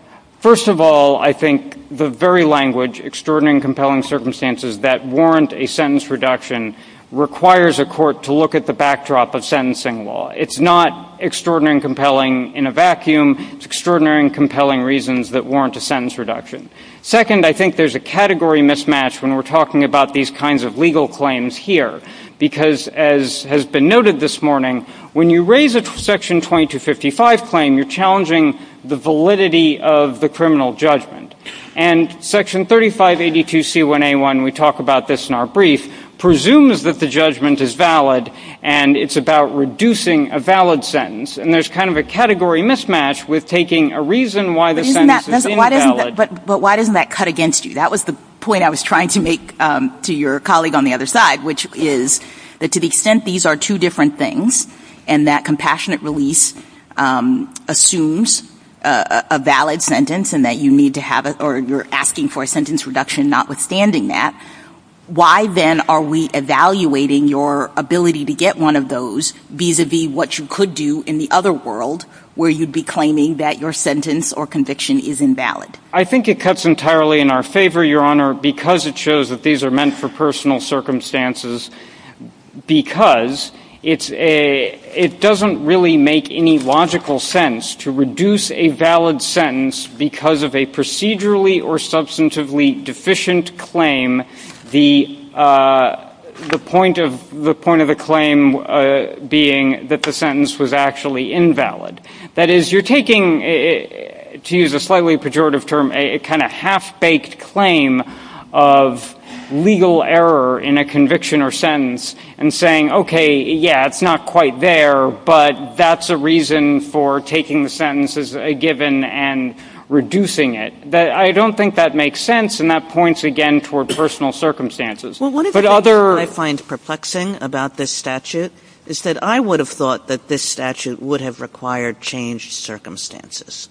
first of all, I think the very language, extraordinary and compelling circumstances that warrant a sentence reduction requires a court to look at the backdrop of sentencing law. It's not extraordinary and compelling in a vacuum. It's extraordinary and compelling reasons that warrant a sentence reduction. Second, I think there's a category mismatch when we're talking about these kinds of legal claims here, because as has been noted this morning, when you raise a Section 2255 claim, you're challenging the validity of the criminal judgment. And Section 3582C1A1 — we talk about this in our brief — presumes that the judgment is valid, and it's about reducing a valid sentence. And there's kind of a category mismatch with taking a reason why the sentence is invalid — But why doesn't that cut against you? That was the point I was trying to make to your colleague on the other side, which is that to the extent these are two different things, and that compassionate release assumes a valid sentence, and that you need to have — or you're asking for a sentence reduction notwithstanding that, why then are we evaluating your ability to get one of those vis-à-vis what you could do in the other world, where you'd be claiming that your sentence or conviction is invalid? I think it cuts entirely in our favor, Your Honor, because it shows that these are meant for personal circumstances, because it's a — it doesn't really make any logical sense to reduce a valid sentence because of a procedurally or substantively deficient claim, the point of — the point of the claim being that the sentence was actually invalid. That is, you're taking, to use a slightly pejorative term, a kind of half-baked claim of legal error in a conviction or sentence, and saying, okay, yeah, it's not quite there, but that's a reason for taking the sentence as a given and reducing it. I don't think that makes sense, and that points again toward personal circumstances. Well, one of the things I find perplexing about this statute is that I would have thought that this statute would have required changed circumstances,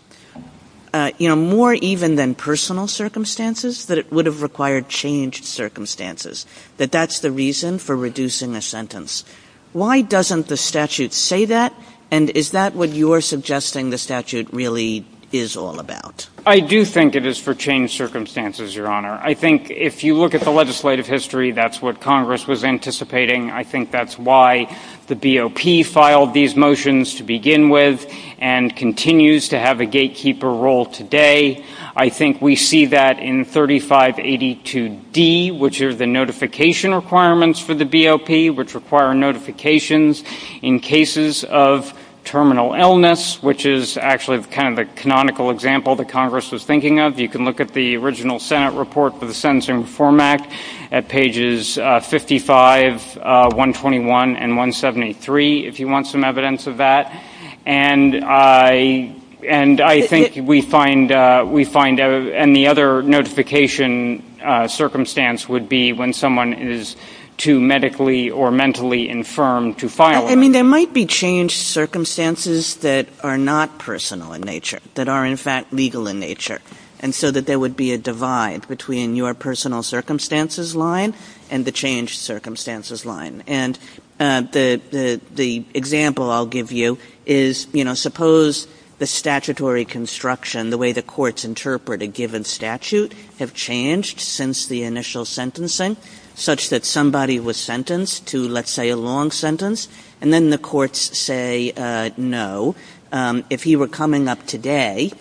you know, more even than personal circumstances, that it would have required changed circumstances, that that's the reason for reducing a sentence. Why doesn't the statute say that? And is that what you're suggesting the statute really is all about? I do think it is for changed circumstances, Your Honor. I think if you look at the legislative history, that's what Congress was anticipating. I think that's why the BOP filed these motions to begin with and continues to have a gatekeeper role today. I think we see that in 3582d, which are the notification requirements for the BOP, which require notifications in cases of terminal illness, which is actually kind of a canonical example that Congress was thinking of. You can look at the original Senate report for the Sentence Reform Act at pages 55, 121, and 173, if you want some evidence of that. And I think we find any other notification circumstance would be when someone is too medically or mentally infirm to file it. I mean, there might be changed circumstances that are not personal in nature, that are in fact legal in nature. And so that there would be a divide between your personal circumstances line and the changed circumstances line. And the example I'll give you is, you know, suppose the statutory construction, the way the courts interpret a given statute have changed since the initial sentencing, such that somebody was sentenced to, let's say, a long sentence. And then the courts say, no, if he were coming up today,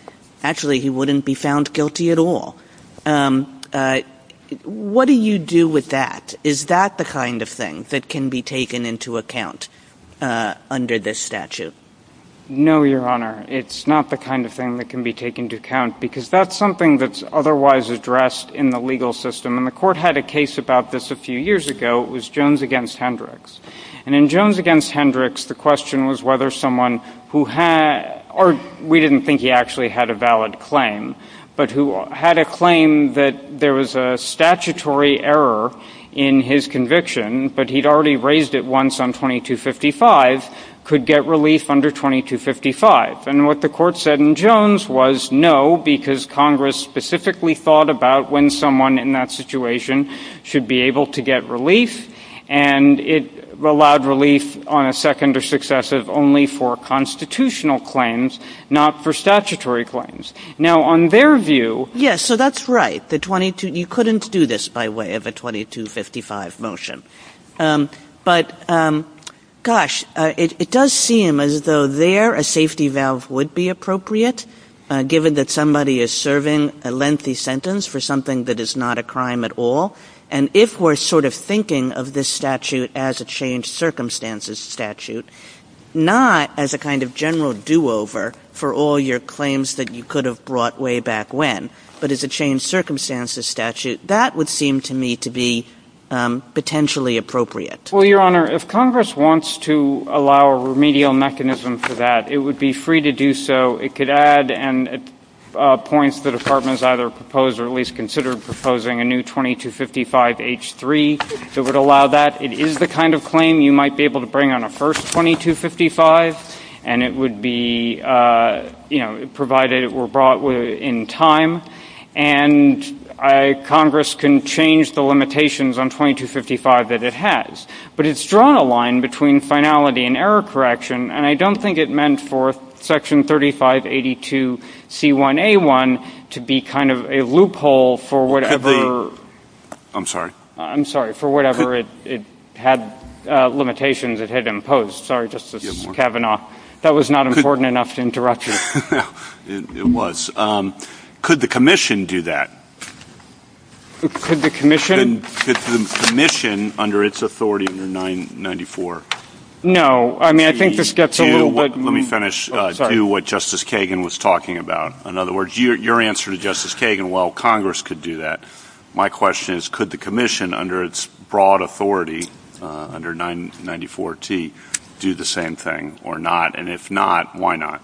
actually, he wouldn't be found guilty at all. What do you do with that? Is that the kind of thing that can be taken into account under this statute? No, Your Honor. It's not the kind of thing that can be taken into account because that's something that's otherwise addressed in the legal system. And the court had a case about this a few years ago. It was Jones v. Hendricks. And in Jones v. Hendricks, the question was whether someone who had, or we didn't think he actually had a valid claim, but who had a claim that there was a statutory error in his conviction, but he'd already raised it once on 2255, could get relief under 2255. And what the court said in Jones was, no, because Congress specifically thought about when someone in that situation should be able to get relief. And it allowed relief on a second or successive only for constitutional claims, not for statutory claims. Now, on their view... Yes, so that's right. You couldn't do this by way of a 2255 motion. But, gosh, it does seem as though there a safety valve would be appropriate, given that somebody is serving a lengthy sentence for something that is not a crime at all. And if we're sort of thinking of this statute as a changed circumstances statute, not as a kind of general do-over for all your claims that you could have brought way back when, but as a changed circumstances statute, that would seem to me to be potentially appropriate. Well, Your Honor, if Congress wants to allow a remedial mechanism for that, it would be free to do so. It could add points the Department has either proposed or at least considered proposing a new 2255H3 that would allow that. It is the kind of claim you might be able to bring on a first 2255, and it would be, you know, provided it were brought in time. And Congress can change the limitations on 2255 that it has. But it's drawn a line between finality and error correction, and I don't think it meant for Section 3582C1A1 to be kind of a loophole for whatever... I'm sorry? I'm sorry. For whatever it had limitations it had imposed. Sorry, Justice Kavanaugh. That was not important enough to interrupt you. It was. Could the Commission do that? Could the Commission? The Commission, under its authority under 994. No. I mean, I think this gets a little bit... Let me finish what Justice Kagan was talking about. In other words, your answer to Justice Kagan, while Congress could do that, my question is, could the Commission, under its broad authority under 994T, do the same thing or not? And if not, why not?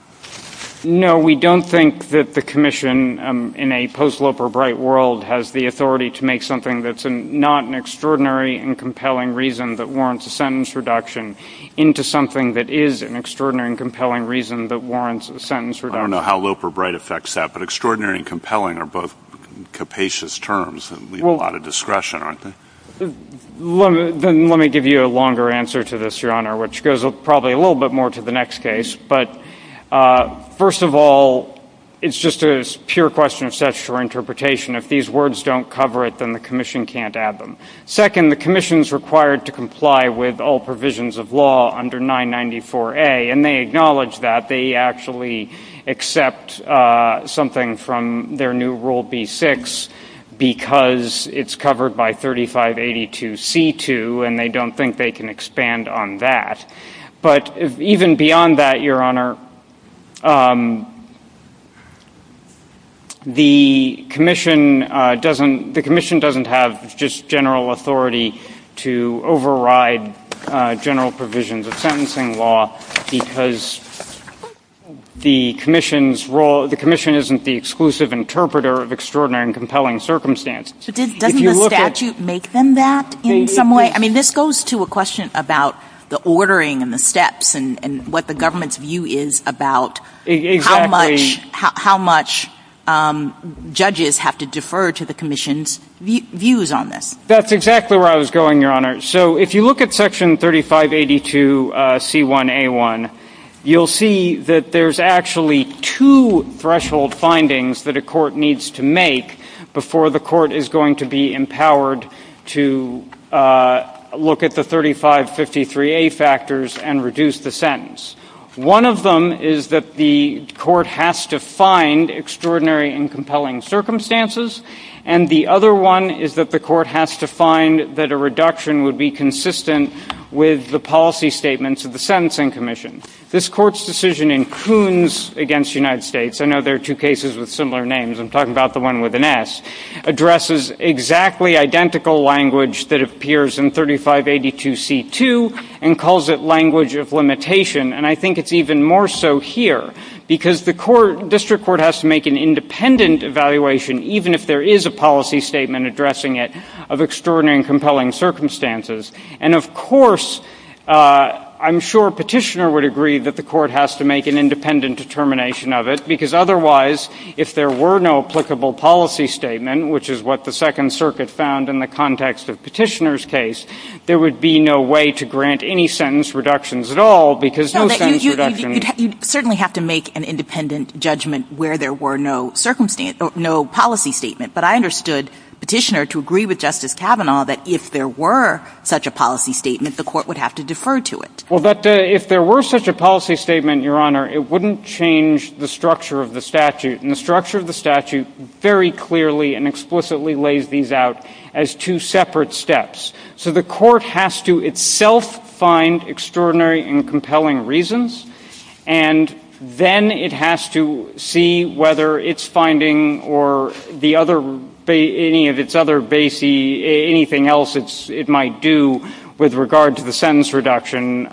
No, we don't think that the Commission in a post-Loeb or Bright world has the authority to make something that's not an extraordinary and compelling reason that warrants a sentence reduction into something that is an extraordinary and compelling reason that warrants a sentence reduction. I don't know how Loeb or Bright affects that, but extraordinary and compelling are both capacious terms and leave a lot of discretion, aren't they? Then let me give you a longer answer to this, Your Honor, which goes probably a little bit more to the next case. But first of all, it's just a pure question of session or interpretation. If these words don't cover it, then the Commission can't add them. Second, the Commission's required to comply with all provisions of law under 994A, and they acknowledge that. They actually accept something from their new Rule B-6 because it's covered by 3582C-2, and they don't think they can expand on that. But even beyond that, Your Honor, the Commission doesn't have just general authority to override general provisions of sentencing law because the Commission isn't the exclusive interpreter of extraordinary and compelling circumstances. So doesn't the statute make them that in some way? This goes to a question about the ordering and the steps and what the government's view is about how much judges have to defer to the Commission's views on this. That's exactly where I was going, Your Honor. So if you look at section 3582C-1A-1, you'll see that there's actually two threshold findings that a court needs to make before the court is going to be empowered to look at the 3553A factors and reduce the sentence. One of them is that the court has to find extraordinary and compelling circumstances, and the other one is that the court has to find that a reduction would be consistent with the policy statements of the Sentencing Commission. This Court's decision in Coons v. United States—I know there are two cases with similar names, I'm talking about the one with an S—addresses exactly identical language that appears in 3582C-2 and calls it language of limitation. And I think it's even more so here because the District Court has to make an independent evaluation, even if there is a policy statement addressing it, of extraordinary and compelling circumstances. And of course, I'm sure Petitioner would agree that the court has to make an independent determination of it, because otherwise, if there were no applicable policy statement, which is what the Second Circuit found in the context of Petitioner's case, there would be no way to grant any sentence reductions at all, because no sentence reduction— You'd certainly have to make an independent judgment where there were no policy statement, but I understood Petitioner to agree with Justice Kavanaugh that if there were such a policy statement, the court would have to defer to it. Well, that—if there were such a policy statement, Your Honor, it wouldn't change the structure of the statute. And the structure of the statute very clearly and explicitly lays these out as two separate steps. So the court has to itself find extraordinary and compelling reasons, and then it has to see whether its finding or the other—any of its other base—anything else it might do with regard to the sentence reduction,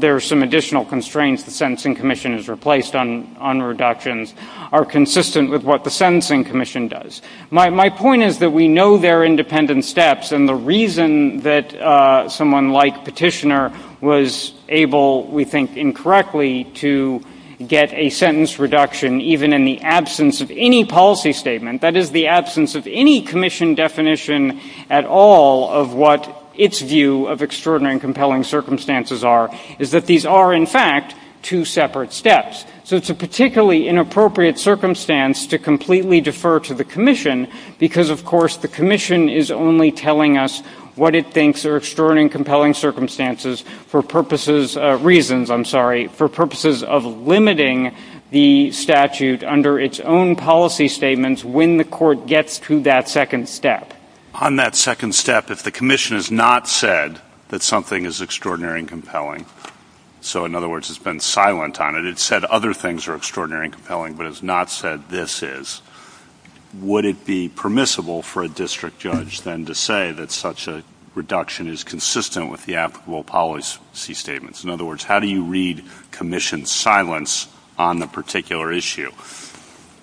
there are some additional constraints the Sentencing Commission has replaced on reductions are consistent with what the Sentencing Commission does. My point is that we know they're independent steps, and the reason that someone like Petitioner was able, we think, incorrectly to get a sentence reduction, even in the absence of any policy statement—that is, the absence of any commission definition at all of what its view of extraordinary and compelling circumstances are—is that these are, in fact, two separate steps. So it's a particularly inappropriate circumstance to completely defer to the commission because, of course, the commission is only telling us what it thinks are extraordinary and compelling circumstances for purposes—reasons, I'm sorry—for purposes of limiting the statute under its own policy statements when the court gets to that second step. On that second step, if the commission has not said that something is extraordinary and compelling—so, in other words, it's been silent on it, it's said other things are extraordinary and compelling, but has not said this is—would it be permissible for a district judge, then, to say that such a reduction is consistent with the applicable policy statements? In other words, how do you read commission silence on the particular issue?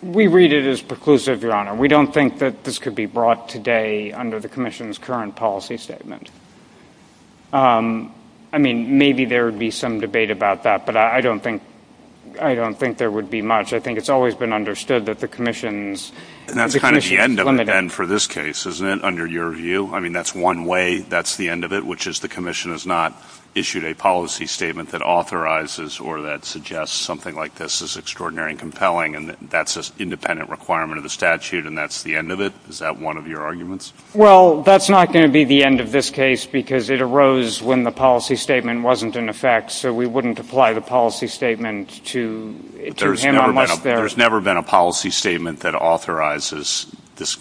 We read it as preclusive, Your Honor. We don't think that this could be brought today under the commission's current policy statement. I mean, maybe there would be some debate about that, but I don't think there would be much. I think it's always been understood that the commission's— And that's kind of the end of it, then, for this case, isn't it, under your view? I mean, that's one way that's the end of it, which is the commission has not issued a policy statement that authorizes or that suggests something like this is extraordinary and compelling, and that's an independent requirement of the statute, and that's the end of it. Is that one of your arguments? Well, that's not going to be the end of this case, because it arose when the policy statement wasn't in effect, so we wouldn't apply the policy statement to him unless there— There's never been a policy statement that authorizes this—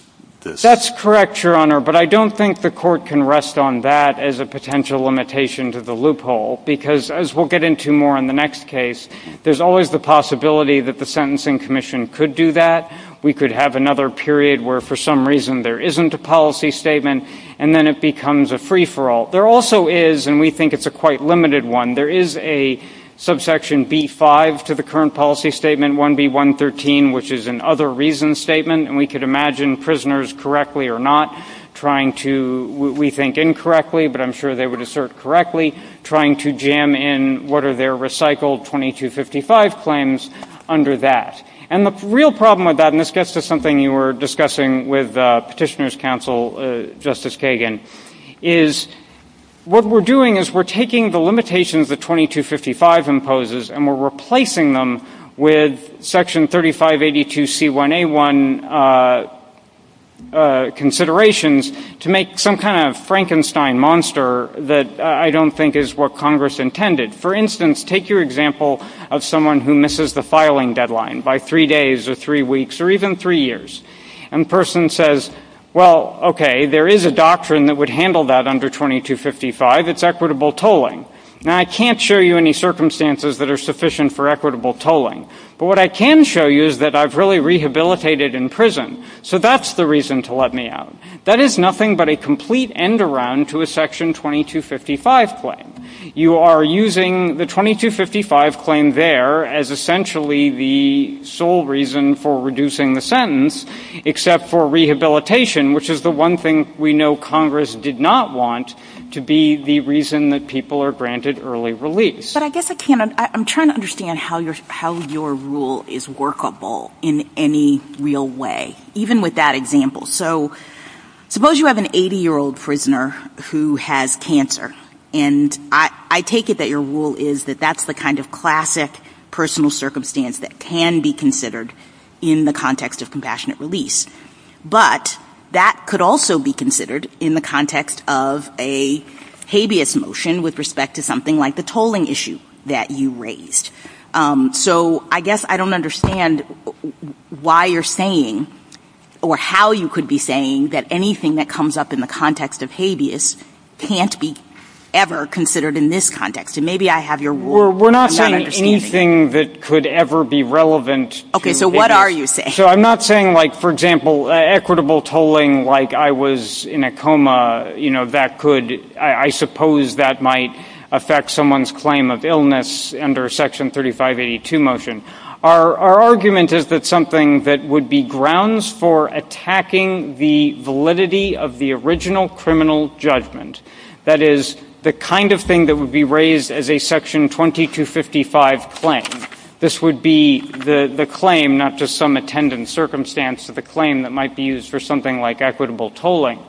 That's correct, Your Honor, but I don't think the Court can rest on that as a potential limitation to the loophole, because, as we'll get into more in the next case, there's always the possibility that the Sentencing Commission could do that. We could have another period where, for some reason, there isn't a policy statement, and then it becomes a free-for-all. There also is, and we think it's a quite limited one, there is a subsection B-5 to the current policy statement, 1B-113, which is an other reason statement, and we could imagine prisoners correctly or not trying to, we think, incorrectly, but I'm sure they would assert correctly, trying to jam in what are their recycled 2255 claims under that. And the real problem with that, and this gets to something you were discussing with Petitioner's counsel, Justice Kagan, is what we're doing is we're taking the limitations that 2255 imposes and we're replacing them with section 3582c1a1 considerations to make some kind of Frankenstein monster that I don't think is what Congress intended. For instance, take your example of someone who misses the filing deadline by three days or three weeks or even three years, and the person says, well, okay, there is a doctrine that would handle that under 2255, it's equitable tolling. Now, I can't show you any circumstances that are sufficient for equitable tolling, but what I can show you is that I've really rehabilitated in prison, so that's the reason to let me out. That is nothing but a complete end-around to a section 2255 claim. You are using the 2255 claim there as essentially the sole reason for reducing the sentence, except for rehabilitation, which is the one thing we know Congress did not want to be the reason that people are granted early release. But I guess I'm trying to understand how your rule is workable in any real way, even with that example. So suppose you have an 80-year-old prisoner who has cancer, and I take it that your rule is that that's the kind of classic personal circumstance that can be considered in the context of compassionate release. But that could also be considered in the context of a habeas motion with respect to something like the tolling issue that you raised. So I guess I don't understand why you're saying or how you could be saying that anything that comes up in the context of habeas can't be ever considered in this context. And maybe I have your rule. We're not saying anything that could ever be relevant. Okay, so what are you saying? So I'm not saying like, for example, equitable tolling like I was in a coma, you know, that I suppose that might affect someone's claim of illness under Section 3582 motion. Our argument is that something that would be grounds for attacking the validity of the original criminal judgment, that is, the kind of thing that would be raised as a Section 2255 claim, this would be the claim, not just some attendant circumstance, but the claim that might be used for something like equitable tolling,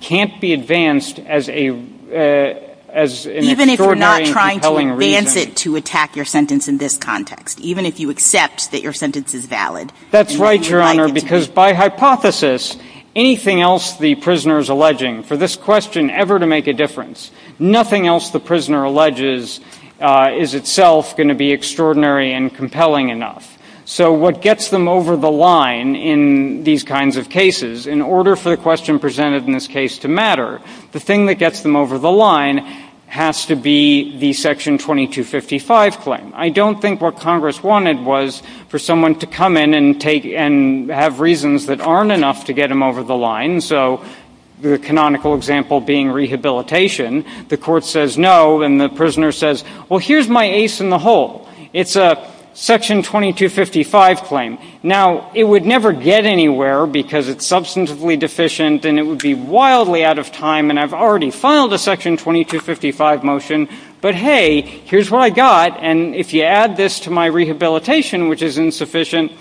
can't be advanced as an extraordinarily Even if we're not trying to advance it to attack your sentence in this context, even if you accept that your sentence is valid. That's right, Your Honor, because by hypothesis, anything else the prisoner is alleging for this question ever to make a difference, nothing else the prisoner alleges is itself going to be extraordinary and compelling enough. So what gets them over the line in these kinds of cases, in order for the question presented in this case to matter, the thing that gets them over the line has to be the Section 2255 claim. I don't think what Congress wanted was for someone to come in and have reasons that aren't enough to get them over the line. So the canonical example being rehabilitation, the court says no, and the prisoner says, well, here's my ace in the hole. It's a Section 2255 claim. Now, it would never get anywhere because it's substantively deficient, and it would be wildly out of time, and I've already filed a Section 2255 motion, but hey, here's what I got, and if you add this to my rehabilitation, which is insufficient,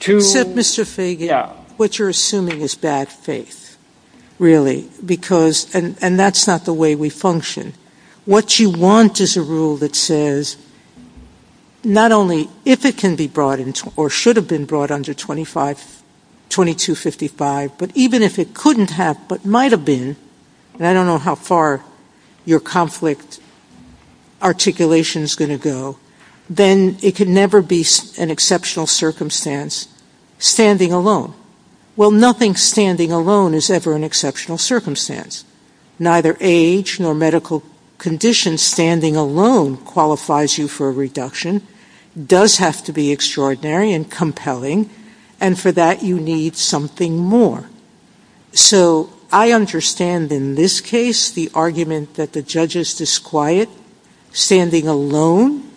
to Except, Mr. Fagan, what you're assuming is bad faith, really, and that's not the way we function. What you want is a rule that says not only if it can be brought into or should have been brought under 2255, but even if it couldn't have but might have been, and I don't know how far your conflict articulation is going to go, then it could never be an exceptional circumstance standing alone. Well, nothing standing alone is ever an exceptional circumstance. Neither age nor medical condition standing alone qualifies you for a reduction. It does have to be extraordinary and compelling, and for that, you need something more. So I understand in this case the argument that the judge is disquiet, standing alone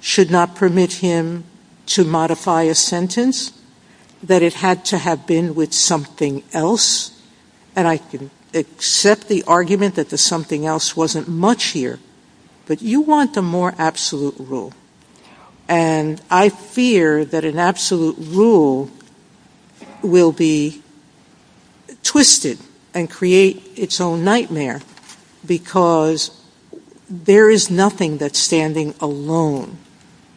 should not permit him to modify a sentence, that it had to have been with something else, and I can accept the argument that the something else wasn't much here, but you want a more absolute rule, and I fear that an absolute rule will be twisted and create its own nightmare because there is nothing that standing alone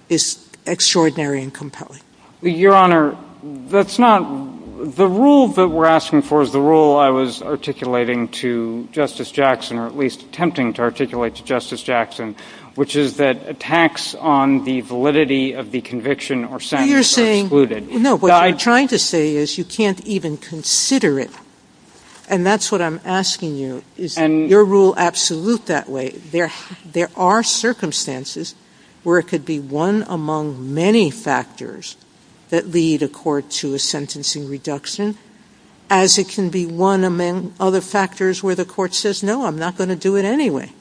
is extraordinary and compelling. Your Honor, that's not – the rule that we're asking for is the rule I was articulating to Justice Jackson, or at least attempting to articulate to Justice Jackson, which is that attacks on the validity of the conviction or sentence are excluded. No, what I'm trying to say is you can't even consider it, and that's what I'm asking you. Is your rule absolute that way? There are circumstances where it could be one among many factors that lead a court to a sentencing reduction, as it can be one among other factors where the court says, no, I'm not going to do it anyway.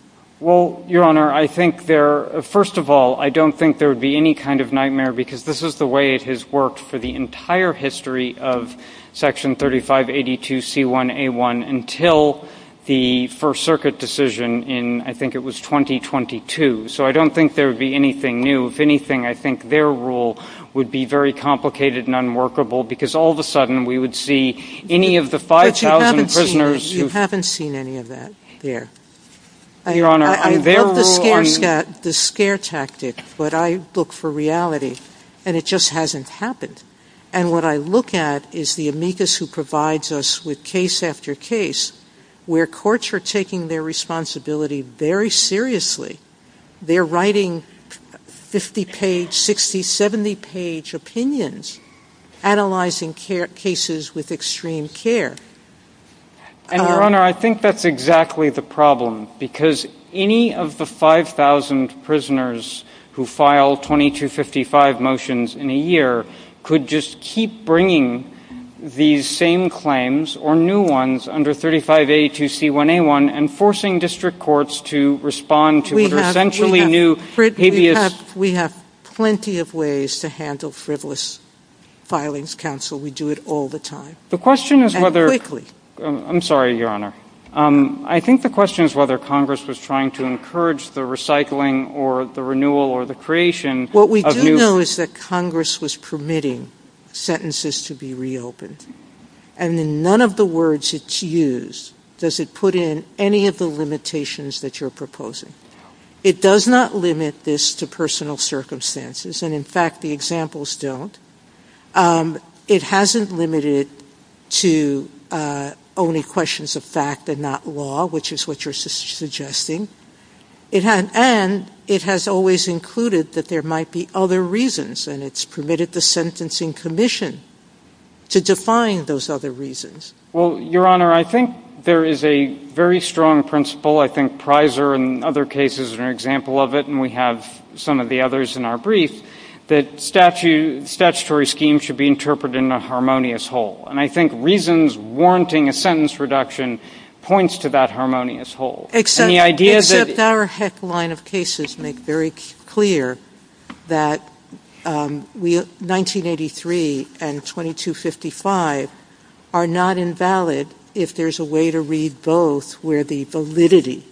Well, Your Honor, I think there – first of all, I don't think there would be any kind of nightmare because this is the way it has worked for the entire history of Section 3582C1A1 until the First Circuit decision in – I think it was 2022. So I don't think there would be anything new. If anything, I think their rule would be very complicated and unworkable because all of a sudden we would see any of the 5,000 prisoners who – But you haven't seen – you haven't seen any of that here. Your Honor, their rule – I love the scare tactic, but I look for reality, and it just hasn't happened. And what I look at is the amicus who provides us with case after case where courts are taking their responsibility very seriously. They're writing 50-page, 60-, 70-page opinions, analyzing cases with extreme care. And, Your Honor, I think that's exactly the problem because any of the 5,000 prisoners who file 2255 motions in a year could just keep bringing these same claims or new ones under 3582C1A1 and forcing district courts to respond to their essentially new habeas – We have plenty of ways to handle frivolous filings, Counsel. We do it all the time and quickly. The question is whether – I'm sorry, Your Honor. I think the question is whether Congress was trying to encourage the recycling or the renewal or the creation of new – What we do know is that Congress was permitting sentences to be reopened. And in none of the words it's used does it put in any of the limitations that you're proposing. It does not limit this to personal circumstances, and, in fact, the examples don't. It hasn't limited to only questions of fact and not law, which is what you're suggesting. And it has always included that there might be other reasons, and it's permitted the Sentencing Commission to define those other reasons. Well, Your Honor, I think there is a very strong principle. I think Prysor and other cases are an example of it, and we have some of the others in our brief that statutory schemes should be interpreted in a harmonious whole, and I think reasons warranting a sentence reduction points to that harmonious whole. Except our heck of a line of cases make very clear that 1983 and 2255 are not invalid if there's a way to read both where the validity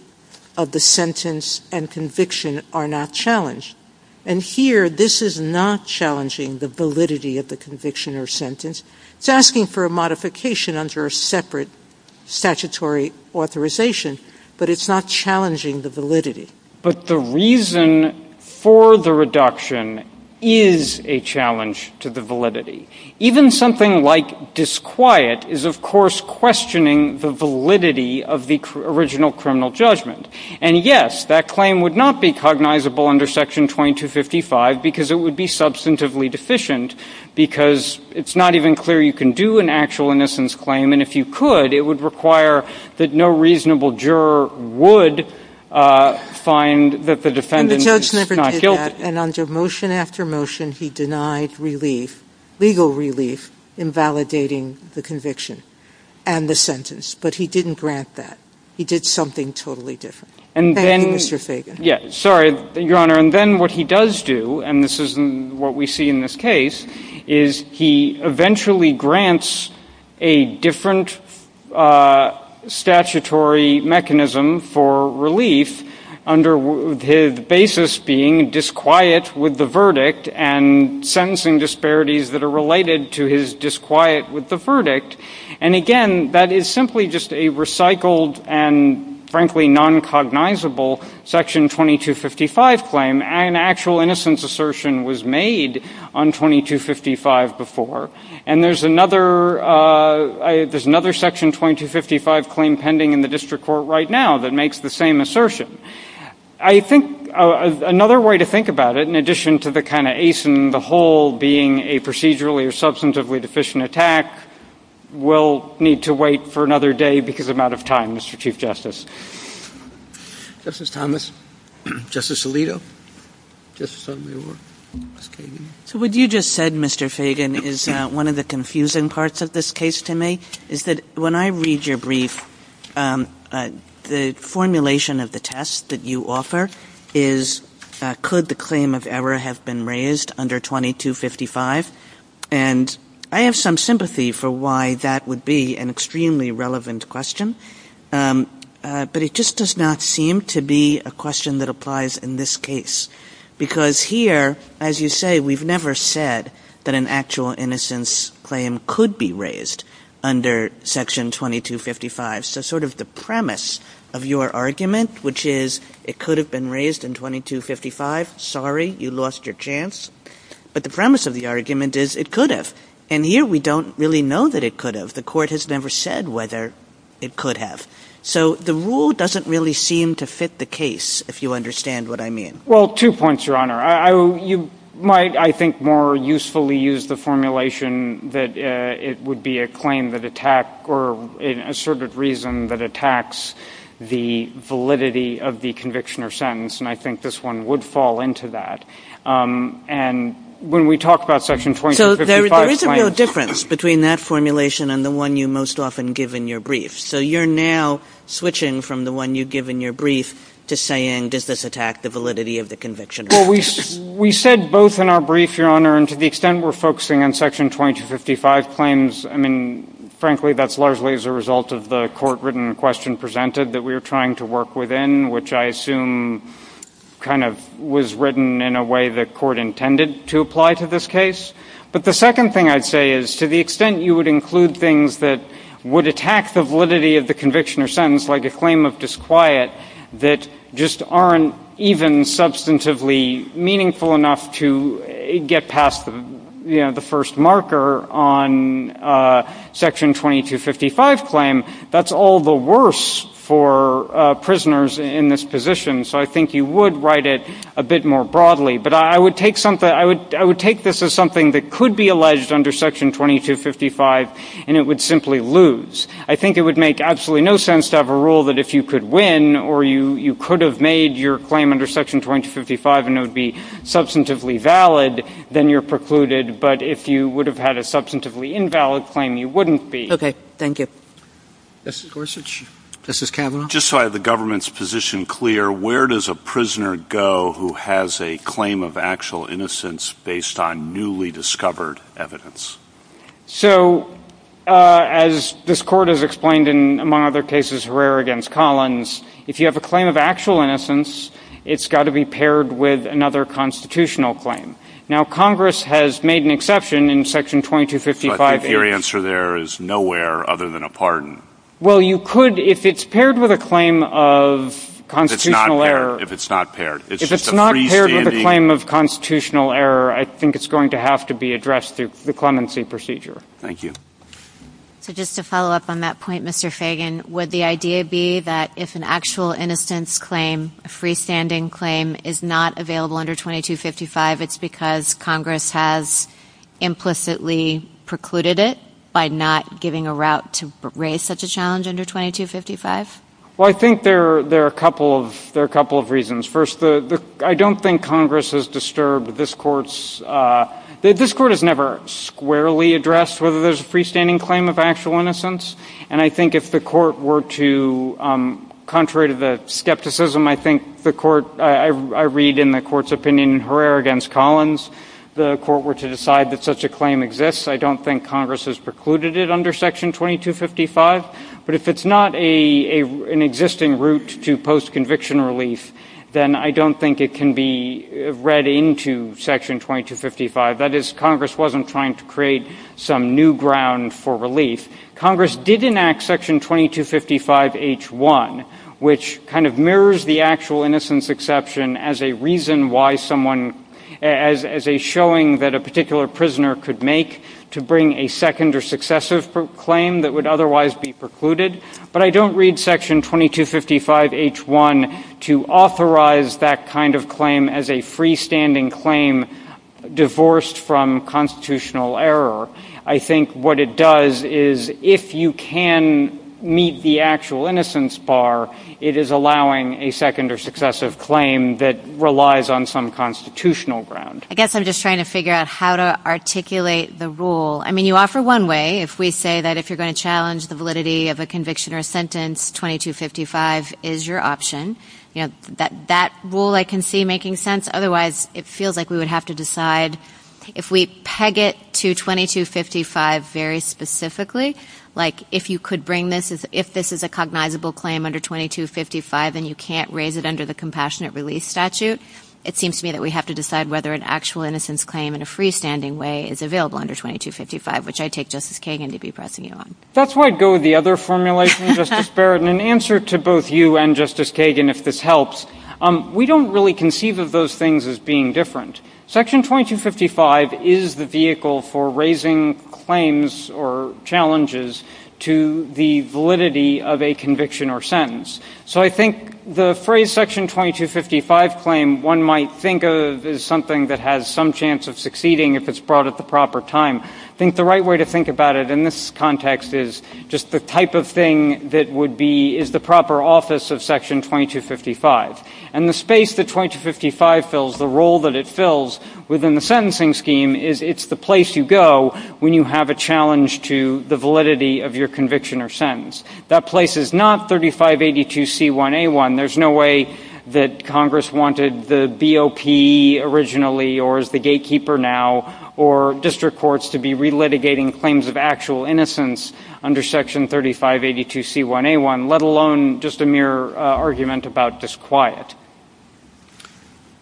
of the sentence and conviction are not challenged. And here, this is not challenging the validity of the conviction or sentence. It's asking for a modification under a separate statutory authorization, but it's not challenging the validity. But the reason for the reduction is a challenge to the validity. Even something like disquiet is, of course, questioning the validity of the original criminal judgment. And yes, that claim would not be cognizable under Section 2255 because it would be substantively deficient because it's not even clear you can do an actual innocence claim, and if you could, it would require that no reasonable juror would find that the defendant is not guilty. And under motion after motion, he denied relief. Legal relief invalidating the conviction and the sentence, but he didn't grant that. He did something totally different. And then, Mr. Fagan. Yes, sorry, Your Honor. And then what he does do, and this is what we see in this case, is he eventually grants a different statutory mechanism for relief under his basis being disquiet with the verdict and sentencing disparities that are related to his disquiet with the verdict. And again, that is simply just a recycled and, frankly, noncognizable Section 2255 claim. An actual innocence assertion was made on 2255 before, and there's another Section 2255 claim pending in the district court right now that makes the same assertion. I think another way to think about it, in addition to the kind of ace in the hole being a procedurally or substantively deficient attack, we'll need to wait for another day because I'm out of time, Mr. Chief Justice. Justice Thomas. Justice Alito. What you just said, Mr. Fagan, is one of the confusing parts of this case to me, is that when I read your brief, the formulation of the test that you offer is, could the claim of error have been raised under 2255? And I have some sympathy for why that would be an extremely relevant question, but it just does not seem to be a question that applies in this case. Because here, as you say, we've never said that an actual innocence claim could be raised under Section 2255. So sort of the premise of your argument, which is it could have been raised in 2255, sorry, you lost your chance. But the premise of the argument is it could have. And here we don't really know that it could have. The court has never said whether it could have. So the rule doesn't really seem to fit the case, if you understand what I mean. Well, two points, Your Honor. You might, I think, more usefully use the formulation that it would be a claim that attacked, or an asserted reason that attacks the validity of the conviction or sentence. And I think this one would fall into that. And when we talk about Section 2255... So there is a real difference between that formulation and the one you most often give in your brief. So you're now switching from the one you give in your brief to saying, does this attack the validity of the conviction? Well, we said both in our brief, Your Honor. And to the extent we're focusing on Section 2255 claims, I mean, frankly, that's largely as a result of the court-written question presented that we're trying to work within, which I assume kind of was written in a way the court intended to apply to this case. But the second thing I'd say is, to the extent you would include things that would attack the validity of the conviction or sentence, like a claim of disquiet, that just aren't even substantively meaningful enough to get past the first marker on Section 2255 claim, that's all the worse for prisoners in this position. So I think you would write it a bit more broadly. But I would take this as something that could be alleged under Section 2255, and it would simply lose. I think it would make absolutely no sense to have a rule that if you could win, or you could have made your claim under Section 2255, and it would be substantively valid, then you're precluded. But if you would have had a substantively invalid claim, you wouldn't be. Okay. Thank you. Justice Gorsuch? Justice Kavanaugh? Just so I have the government's position clear, where does a prisoner go who has a claim of actual innocence based on newly discovered evidence? So as this Court has explained in, among other cases, Herrera v. Collins, if you have a claim of actual innocence, it's got to be paired with another constitutional claim. Now Congress has made an exception in Section 2255. But the clear answer there is nowhere other than a pardon. Well you could, if it's paired with a claim of constitutional error. If it's not paired. If it's not paired with a claim of constitutional error, I think it's going to have to be addressed through the clemency procedure. Thank you. So just to follow up on that point, Mr. Fagan, would the idea be that if an actual innocence claim, a freestanding claim, is not available under 2255, it's because Congress has implicitly precluded it by not giving a route to raise such a challenge under 2255? Well I think there are a couple of reasons. First, I don't think Congress has disturbed this Court's, this Court has never squarely addressed whether there's a freestanding claim of actual innocence. And I think if the Court were to, contrary to the skepticism, I think the Court, I read in the Court's opinion in Herrera v. Collins, the Court were to decide that such a claim exists. I don't think Congress has precluded it under Section 2255. But if it's not an existing route to post-conviction relief, then I don't think it can be read into Section 2255. That is, Congress wasn't trying to create some new ground for relief. Congress did enact Section 2255-H1, which kind of mirrors the actual innocence exception as a reason why someone, as a showing that a particular prisoner could make to bring a second or successive claim that would otherwise be precluded. But I don't read Section 2255-H1 to authorize that kind of claim as a freestanding claim divorced from constitutional error. I think what it does is, if you can meet the actual innocence bar, it is allowing a second or successive claim that relies on some constitutional ground. I guess I'm just trying to figure out how to articulate the rule. I mean, you offer one way, if we say that if you're going to challenge the validity of a conviction or a sentence, 2255 is your option. That rule I can see making sense. Otherwise, it feels like we would have to decide, if we peg it to 2255 very specifically, like if you could bring this, if this is a cognizable claim under 2255 and you can't raise it under the Compassionate Relief Statute, it seems to me that we have to decide whether an actual innocence claim in a freestanding way is available under 2255, which I take Justice Kagan to be pressing you on. That's why I go with the other formulation, Justice Barrett. And in answer to both you and Justice Kagan, if this helps, we don't really conceive of those things as being different. Section 2255 is the vehicle for raising claims or challenges to the validity of a conviction or sentence. So I think the phrase Section 2255 claim, one might think of as something that has some chance of succeeding if it's brought at the proper time. I think the right way to think about it in this context is just the type of thing that would be, is the proper office of Section 2255. And the space that 2255 fills, the role that it fills within the sentencing scheme, is it's the place you go when you have a challenge to the validity of your conviction or sentence. That place is not 3582C1A1. There's no way that Congress wanted the BOP originally or as the gatekeeper now or district courts to be relitigating claims of actual innocence under Section 3582C1A1, let alone just a mere argument about disquiet.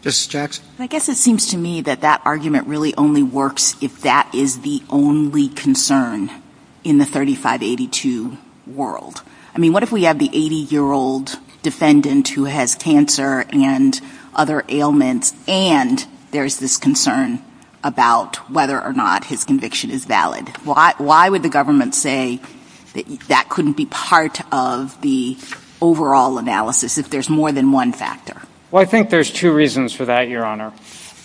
Justice Jackson? I guess it seems to me that that argument really only works if that is the only concern in the 3582 world. I mean, what if we have the 80-year-old defendant who has cancer and other ailments and there's this concern about whether or not his conviction is valid? Why would the government say that that couldn't be part of the overall analysis if there's more than one factor? Well, I think there's two reasons for that, Your Honor.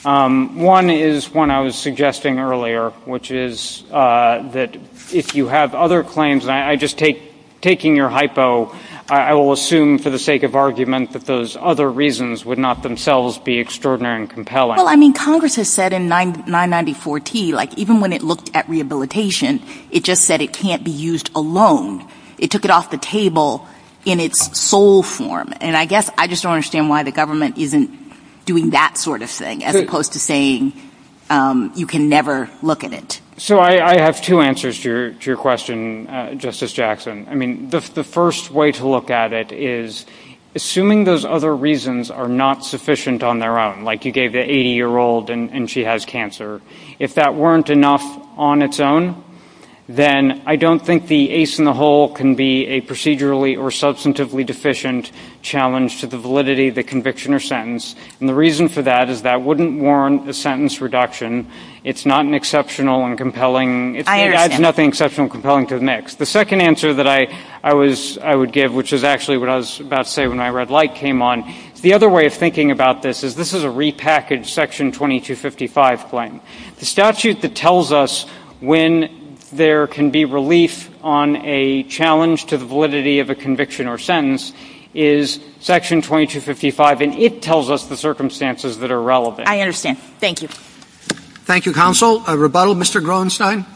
One is one I was suggesting earlier, which is that if you have other claims, I just take, taking your hypo, I will assume for the sake of argument that those other reasons would not themselves be extraordinary and compelling. Well, I mean, Congress has said in 994T, like even when it looked at rehabilitation, it just said it can't be used alone. It took it off the table in its sole form. And I guess I just don't understand why the government isn't doing that sort of thing as opposed to saying you can never look at it. So I have two answers to your question, Justice Jackson. I mean, the first way to look at it is assuming those other reasons are not sufficient on their own, like you gave the 80-year-old and she has cancer. If that weren't enough on its own, then I don't think the ace in the hole can be a procedurally or substantively deficient challenge to the validity of the conviction or sentence. And the reason for that is that wouldn't warrant the sentence reduction. It's not an exceptional and compelling. It adds nothing exceptional and compelling to the mix. The second answer that I would give, which is actually what I was about to say when my red light came on, the other way of thinking about this is this is a repackaged Section 2255 claim. The statute that tells us when there can be relief on a challenge to the validity of a conviction or sentence is Section 2255, and it tells us the circumstances that are relevant. I understand. Thank you. Thank you, Counsel. A rebuttal, Mr. Groenstein?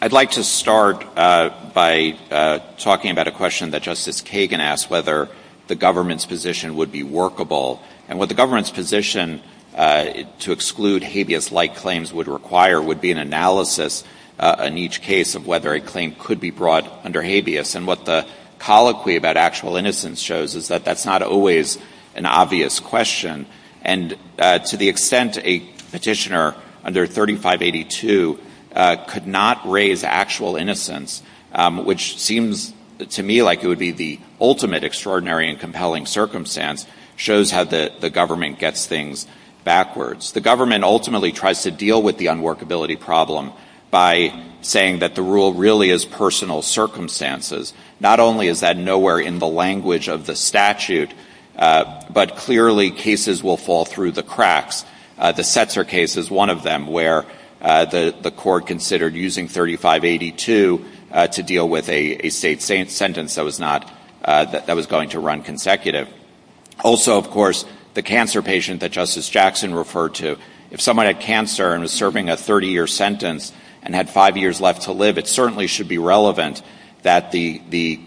I'd like to start by talking about a question that Justice Kagan asked whether the government's position would be workable. And what the government's position to exclude habeas-like claims would require would be an analysis in each case of whether a claim could be brought under habeas. And what the colloquy about actual innocence shows is that that's not always an obvious question. And to the extent a petitioner under 3582 could not raise actual innocence, which seems to me like it would be the ultimate extraordinary and compelling circumstance shows how the government gets things backwards. The government ultimately tries to deal with the unworkability problem by saying that the rule really is personal circumstances. Not only is that nowhere in the language of the statute, but clearly cases will fall through the cracks. The Setzer case is one of them where the court considered using 3582 to deal with a state sentence that was going to run consecutive. Also, of course, the cancer patient that Justice Jackson referred to, if someone had cancer and was serving a 30-year sentence and had five years left to live, it certainly should be relevant that the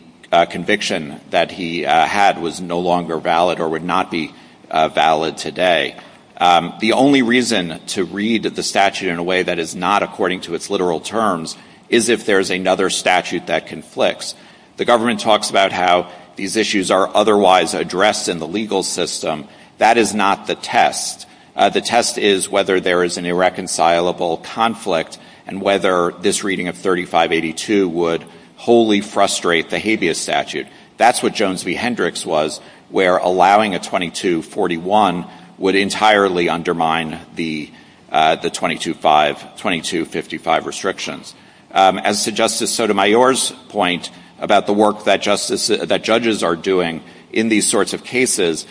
conviction that he had was no longer valid or would not be valid today. The only reason to read the statute in a way that is not according to its literal terms is if there's another statute that conflicts. The government talks about how these issues are otherwise addressed in the legal system. That is not the test. The test is whether there is an irreconcilable conflict and whether this reading of 3582 would wholly frustrate the habeas statute. That's what Jones v. Hendricks was where allowing a 2241 would entirely undermine the 2255 restrictions. And so Justice Sotomayor's point about the work that judges are doing in these sorts of cases,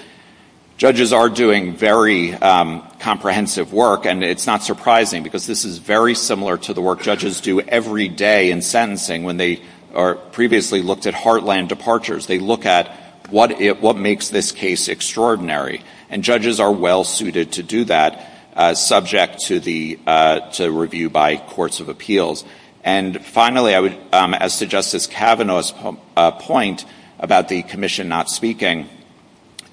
judges are doing very comprehensive work and it's not surprising because this is very similar to the work judges do every day in sentencing when they previously looked at heartland departures. They look at what makes this case extraordinary. And judges are well-suited to do that subject to review by courts of appeals. And finally, as to Justice Kavanaugh's point about the commission not speaking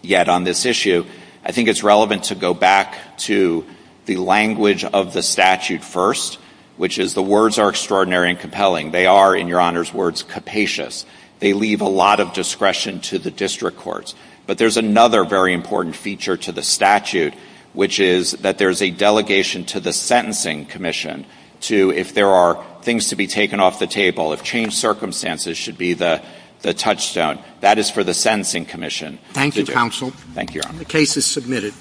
yet on this issue, I think it's relevant to go back to the language of the statute first, which is the words are extraordinary and compelling. They are, in Your Honor's words, capacious. They leave a lot of discretion to the district courts. But there's another very important feature to the statute, which is that there's a delegation to the Sentencing Commission to, if there are things to be taken off the table, if changed circumstances should be the touchstone, that is for the Sentencing Commission. Thank you, counsel. Thank you, Your Honor. The case is submitted.